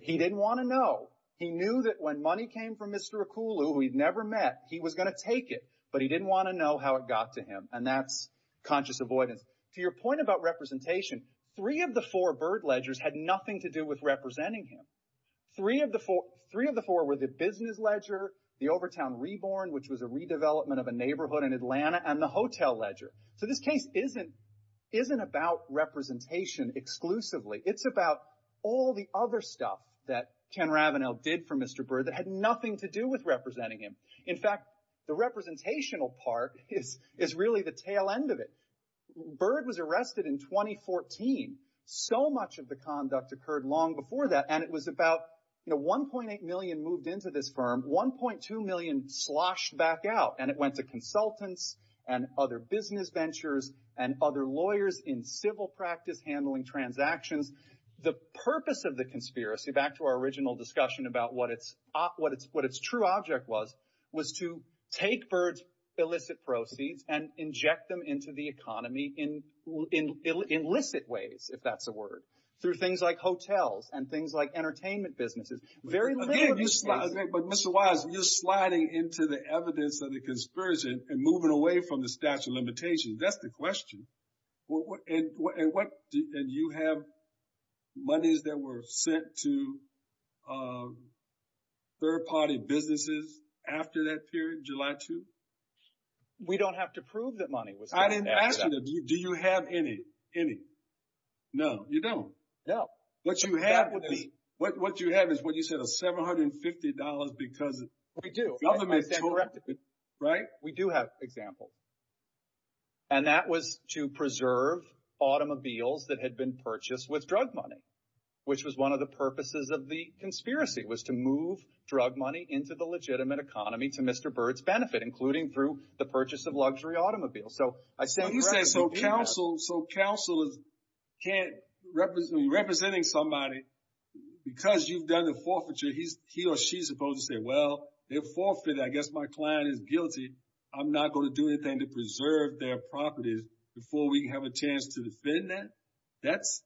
He didn't want to know. He knew that when money came from Mr. Akulu, who he'd never met, he was going to take it, but he didn't want to know how it got to him. And that's conscious avoidance. To your point about representation, three of the four Byrd ledgers had nothing to do with representing him. Three of the four were the business ledger, the Overtown Reborn, which was a redevelopment of a neighborhood in Atlanta, and the hotel ledger. So this case isn't about representation exclusively. It's about all the other stuff that Ken Ravenel did for Mr. Byrd that had nothing to do with representing him. In fact, the representational part is really the tail end of it. Byrd was arrested in 2014. So much of the conduct occurred long before that, and it was about 1.8 million moved into this firm. 1.2 million sloshed back out, and it went to consultants and other business ventures and other lawyers in civil practice handling transactions. The purpose of the conspiracy, back to our original discussion about what its true object was, was to take Byrd's illicit proceeds and inject them into the economy in illicit ways, if that's a word, through things like hotels and things like entertainment businesses. But Mr. Wise, you're sliding into the evidence of the conspiracy and moving away from the statute of limitations. That's the question. And you have monies that were sent to third-party businesses after that period, July 2? We don't have to prove that money was sent. I didn't ask you that. Do you have any? No, you don't. No. What you have is, what you said, $750 because the government told you, right? We do have examples. And that was to preserve automobiles that had been purchased with drug money, which was one of the purposes of the conspiracy, was to move drug money into the legitimate economy to Mr. Byrd's benefit, including through the purchase of luxury automobiles. So, I'd say— You say, so counsel, so counsel can't—representing somebody, because you've done the forfeiture, he or she is supposed to say, well, they forfeited. I guess my client is guilty. I'm not going to do anything to preserve their property before we have a chance to defend that. That's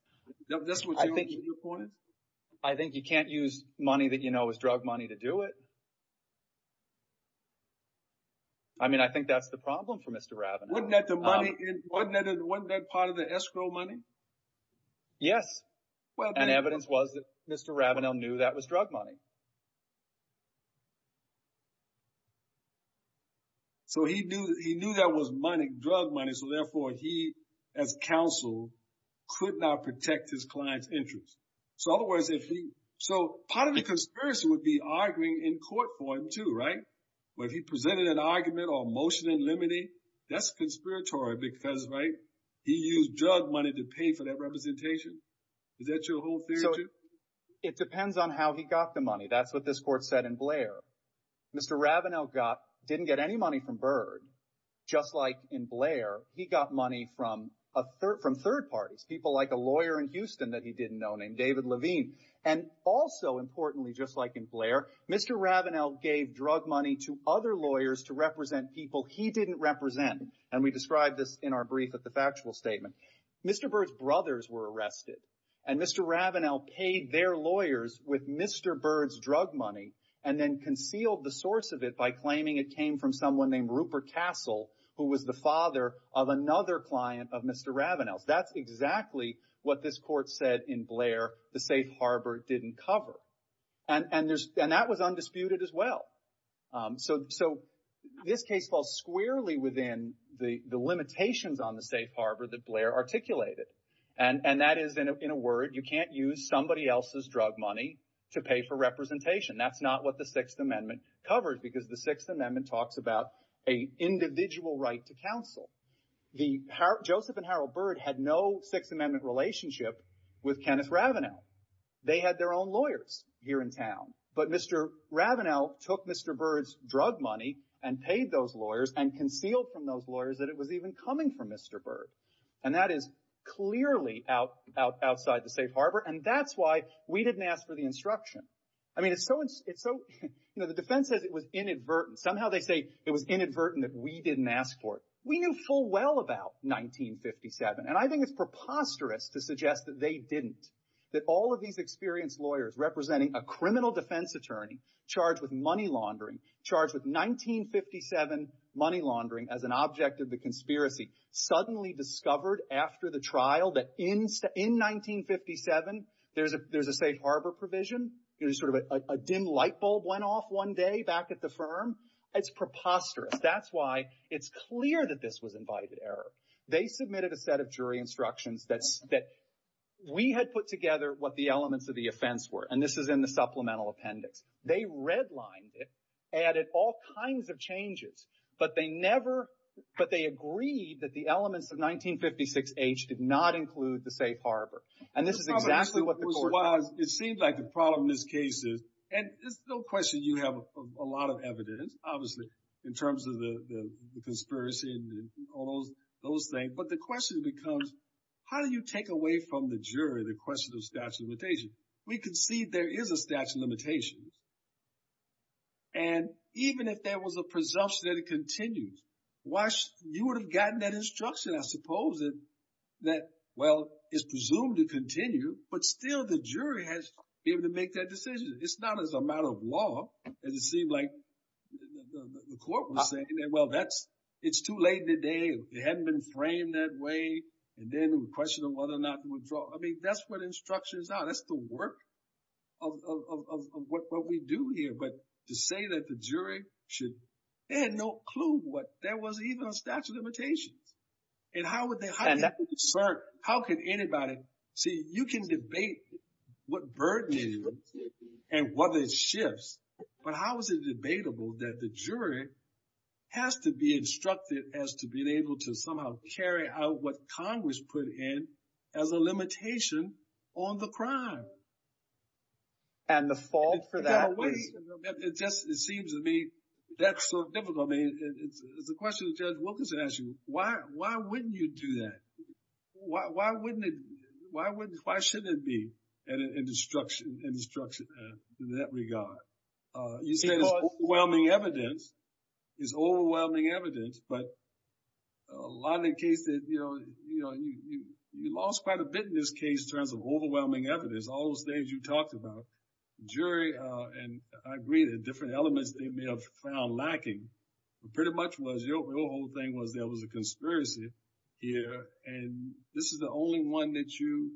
what you're looking for? I think you can't use money that you know is drug money to do it. I mean, I think that's the problem for Mr. Rabanel. Wasn't that the money—wasn't that part of the escrow money? Yes. And evidence was that Mr. Rabanel knew that was drug money. So, he knew that was money, drug money. So, therefore, he, as counsel, could not protect his client's interests. So, otherwise, if he—so, part of the conspiracy would be arguing in court for him, too, right? But if he presented an argument or motion in limine, that's conspiratorial, because, right, he used drug money to pay for that representation. Is that your whole theory? It depends on how he got the money. That's what this court said in Blair. Mr. Rabanel got—didn't get any money from Byrd. Just like in Blair, he got money from third parties, people like a lawyer in Houston that he didn't know named David Levine. And also, importantly, just like in Blair, Mr. Rabanel gave drug money to other lawyers to represent people he didn't represent. And we describe this in our brief as a factual statement. Mr. Byrd's brothers were arrested, and Mr. Rabanel paid their lawyers with Mr. Byrd's drug money and then concealed the source of it by claiming it came from someone named Rupert Castle, who was the father of another client of Mr. Rabanel. That's exactly what this court said in Blair the safe harbor didn't cover. And that was undisputed as well. So, this case falls squarely within the limitations on the safe harbor that Blair articulated. And that is, in a word, you can't use somebody else's drug money to pay for representation. That's not what the Sixth Amendment covers, because the Sixth Amendment talks about a individual right to counsel. Joseph and Harold Byrd had no Sixth Amendment relationship with Kenneth Rabanel. They had their own lawyers here in town. But Mr. Rabanel took Mr. Byrd's drug money and paid those lawyers and concealed from those lawyers that it was even coming from Mr. Byrd. And that is clearly outside the safe harbor. And that's why we didn't ask for the instruction. I mean, the defense says it was inadvertent. Somehow they say it was inadvertent that we didn't ask for it. We knew full well about 1957. And I think it's preposterous to suggest that they didn't, that all of these experienced lawyers representing a criminal defense attorney charged with money laundering, charged with 1957 money laundering as an object of the conspiracy. Suddenly discovered after the trial that in 1957, there's a safe harbor provision. There's sort of a dim light bulb went off one day back at the firm. It's preposterous. That's why it's clear that this was invited error. They submitted a set of jury instructions that we had put together what the elements of the offense were. And this is in the supplemental appendix. They redlined it, added all kinds of changes. But they never, but they agreed that the elements of 1956 age did not include the safe harbor. And this is exactly what the court said. It seems like the problem in this case is, and it's no question you have a lot of evidence, obviously, in terms of the conspiracy and all those things. But the question becomes, how do you take away from the jury the question of statute of limitations? We concede there is a statute of limitations. And even if there was a presumption that it continues, you would have gotten that instruction, I suppose, that, well, it's presumed to continue. But still, the jury has to be able to make that decision. It's not as a matter of law. And it seemed like the court was saying, well, it's too late in the day. It hadn't been framed that way. And then the question of whether or not to withdraw. I mean, that's what instructions are. That's the work of what we do here. But to say that the jury should, they had no clue what, there wasn't even a statute of limitations. And how would they, how can anybody, see, you can debate what burden it is and whether it shifts. But how is it debatable that the jury has to be instructed as to being able to somehow carry out what Congress put in as a limitation on the crime? And the fault for that. It seems to me, that's so difficult. I mean, the question that Judge Wilkinson asked you, why wouldn't you do that? Why wouldn't it, why wouldn't, why shouldn't it be an instruction in that regard? You said overwhelming evidence is overwhelming evidence. But a lot of the cases, you know, you lost quite a bit in this case in terms of overwhelming evidence. All those things you talked about. Jury, and I agree that different elements they may have found lacking, but pretty much was your whole thing was there was a conspiracy here. And this is the only one that you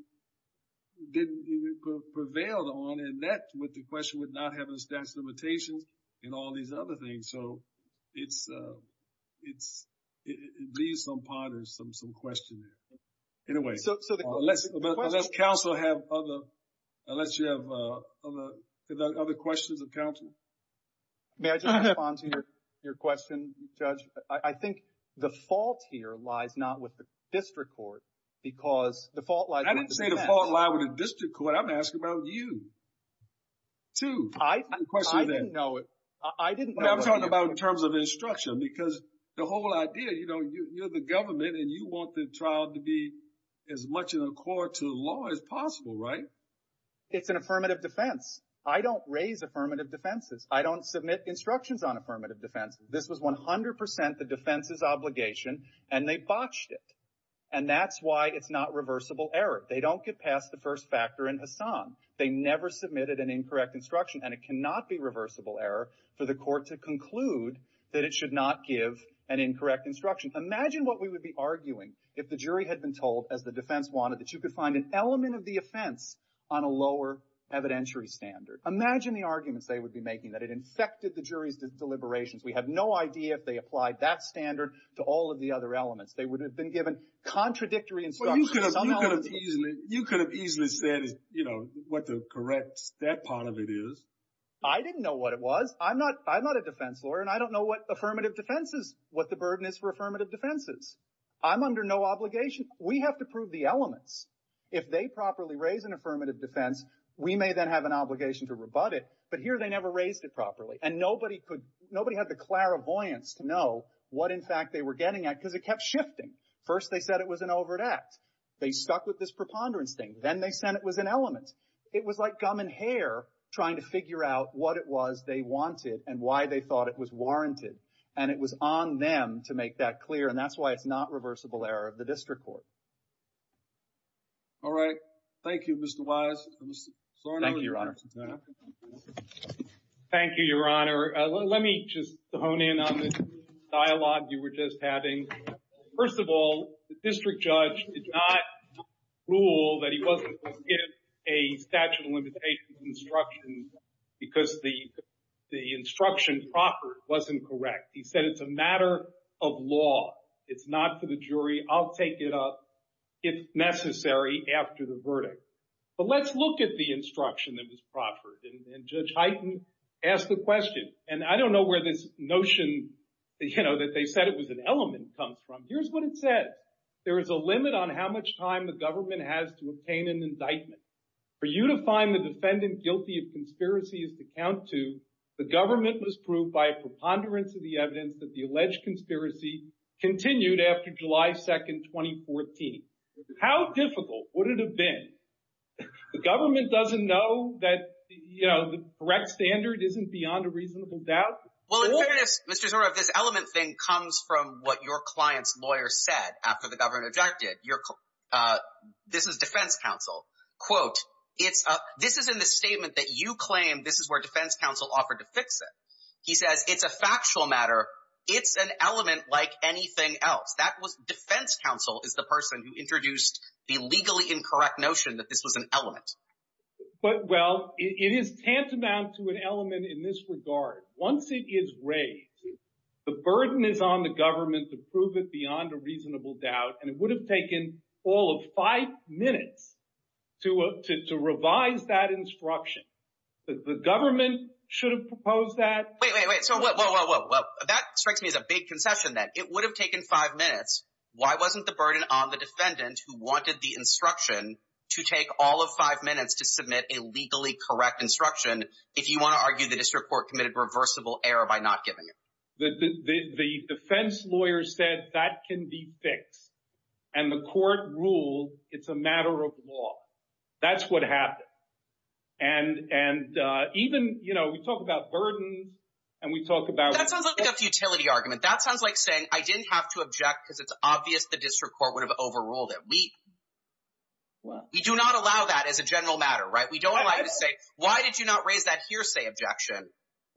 didn't even prevail on. And that's what the question would not have a statute of limitations and all these other things. So, it's, it leaves some ponders, some questions. In a way, unless counsel have other, unless you have other questions of counsel. May I just respond to your question, Judge? I think the fault here lies not with the district court, because the fault lies with the defendant. I didn't say the fault lies with the district court. I'm asking about you, too. I didn't know it. I'm talking about in terms of instruction, because the whole idea, you know, you're the government and you want the child to be as much in accord to the law as possible, right? It's an affirmative defense. I don't raise affirmative defenses. I don't submit instructions on affirmative defenses. This was 100% the defense's obligation, and they botched it. And that's why it's not reversible error. They don't get past the first factor in Hassan. They never submitted an incorrect instruction, and it cannot be reversible error for the court to conclude that it should not give an incorrect instruction. Imagine what we would be arguing if the jury had been told, as the defense wanted, that you could find an element of the offense on a lower evidentiary standard. Imagine the arguments they would be making, that it infected the jury's deliberations. We have no idea if they applied that standard to all of the other elements. They would have been given contradictory instructions. You could have easily said, you know, what the correct step part of it is. I didn't know what it was. I'm not a defense lawyer, and I don't know what affirmative defense is, what the burden is for affirmative defenses. I'm under no obligation. We have to prove the elements. If they properly raise an affirmative defense, we may then have an obligation to rebut it. But here they never raised it properly. And nobody had the clairvoyance to know what, in fact, they were getting at, because it kept shifting. First, they said it was an overt act. They stuck with this preponderance thing. Then they said it was an element. It was like gum and hair trying to figure out what it was they wanted and why they thought it was warranted. And it was on them to make that clear. And that's why it's not reversible error of the district court. MR. BOUTROUS. All right. Thank you, Mr. Wise. And Mr. Sornow. Thank you, Your Honor. Let me just hone in on the dialogue you were just having. First of all, the district judge did not rule that he wasn't going to give a statute of limitations instruction because the instruction proffered wasn't correct. He said it's a matter of law. It's not for the jury. I'll take it up if necessary after the verdict. But let's look at the instruction that was proffered. And Judge Hyten asked the question. And I don't know where this notion that they said it was an element comes from. Here's what it said. There is a limit on how much time the government has to obtain an indictment. For you to find the defendant guilty of conspiracy as to count to, the government must prove by a preponderance of the evidence that the alleged conspiracy continued after July 2nd, 2014. How difficult would it have been? The government doesn't know that the correct standard isn't beyond a reasonable doubt? Well, Mr. Sornow, if this element thing comes from what your client's lawyer said after the government objected, this is defense counsel, quote, this is in the statement that you claim this is where defense counsel offered to fix it. He said it's a factual matter. It's an element like anything else. Defense counsel is the person who introduced the legally incorrect notion that this was an element. Well, it is tantamount to an element in this regard. Once it is raised, the burden is on the government to prove it beyond a reasonable doubt. And it would have taken all of five minutes to revise that instruction. The government should have proposed that. Wait, wait, wait. That strikes me as a big conception then. It would have taken five minutes. Why wasn't the burden on the defendant who wanted the instruction to take all of five minutes to submit a legally correct instruction if you want to argue the district court committed reversible error by not giving it? The defense lawyer said that can be fixed. And the court ruled it's a matter of law. That's what happened. And even, you know, we talk about burdens and we talk about. That sounds like a futility argument. That sounds like saying I didn't have to object because it's obvious the district court would have overruled it. We do not allow that as a general matter, right? We don't allow it to say, why did you not raise that hearsay objection?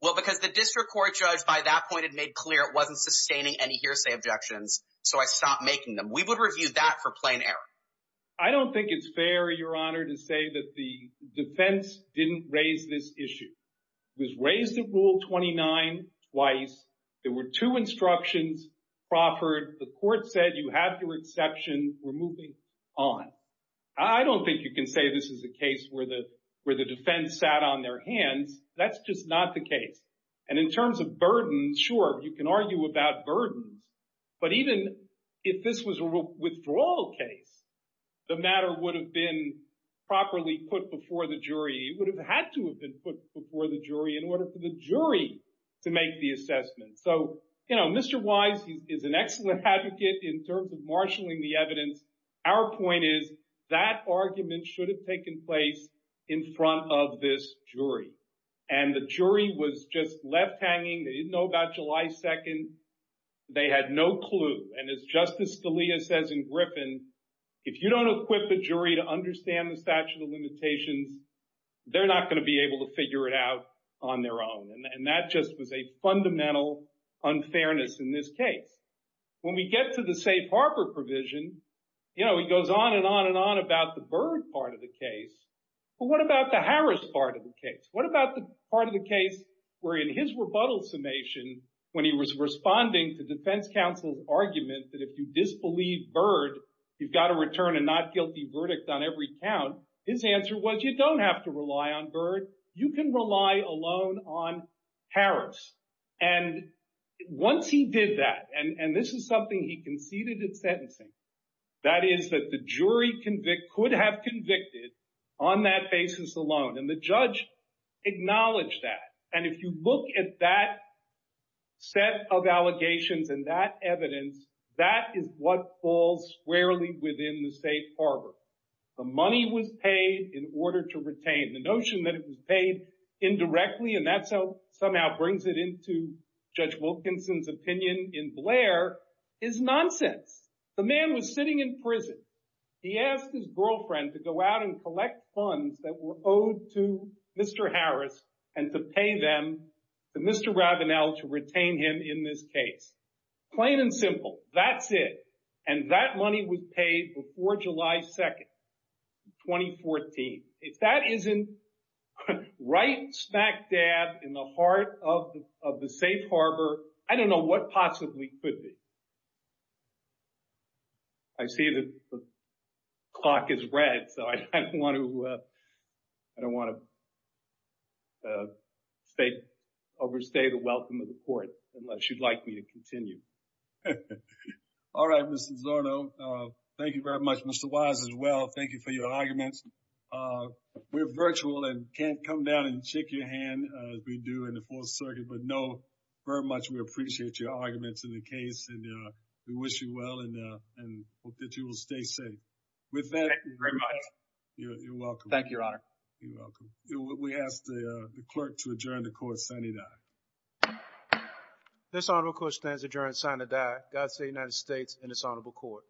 Well, because the district court judge by that point had made clear it wasn't sustaining any hearsay objections, so I stopped making them. We would review that for plain error. I don't think it's fair, Your Honor, to say that the defense didn't raise this issue. It was raised in Rule 29 twice. There were two instructions proffered. The court said you have to exception. We're moving on. I don't think you can say this is a case where the defense sat on their hands. That's just not the case. And in terms of burden, sure, you can argue about burden. But even if this was a withdrawal case, the matter would have been properly put before the jury. It would have had to have been put before the jury in order for the jury to make the assessment. So, you know, Mr. Wise is an excellent advocate in terms of marshaling the evidence. Our point is that argument should have taken place in front of this jury. And the jury was just left hanging. They didn't know about July 2nd. They had no clue. And as Justice Scalia says in Griffin, if you don't equip a jury to understand the statute of limitations, they're not going to be able to figure it out on their own. And that just was a fundamental unfairness in this case. When we get to the safe harbor provision, you know, he goes on and on and on about the Byrd part of the case. But what about the Harris part of the case? What about the part of the case where in his rebuttal summation, when he was responding to defense counsel's argument that if you disbelieve Byrd, you've got to return a not guilty verdict on every count, his answer was you don't have to rely on Byrd. You can rely alone on Harris. And once he did that, and this is something he conceded in sentencing, that is that the jury could have convicted on that basis alone. And the judge acknowledged that. And if you look at that set of allegations and that evidence, that is what falls squarely within the safe harbor. The money was paid in order to retain. The notion that it was paid indirectly, and that somehow brings it into Judge Wilkinson's opinion in Blair, is nonsense. The man was sitting in prison. He asked his girlfriend to go out and collect funds that were owed to Mr. Harris and to pay them to Mr. Rabenow to retain him in this case. Plain and simple. That's it. And that money was paid before July 2, 2014. If that isn't right smack dab in the heart of the safe harbor, I don't know what possibly could be. I see the clock is red, so I don't want to overstay the welcome of the court unless you'd like me to continue. All right, Mr. Zorno, thank you very much, Mr. Wise, as well. Thank you for your arguments. We're virtual and can't come down and shake your hand as we do in the Fourth Circuit, but know very much we appreciate your arguments in the case. We wish you well and hope that you will stay safe. With that, you're welcome. Thank you, Your Honor. You're welcome. We ask the clerk to adjourn the court signing that. This honorable court stands adjourned, signing that. That's the United States and its honorable court.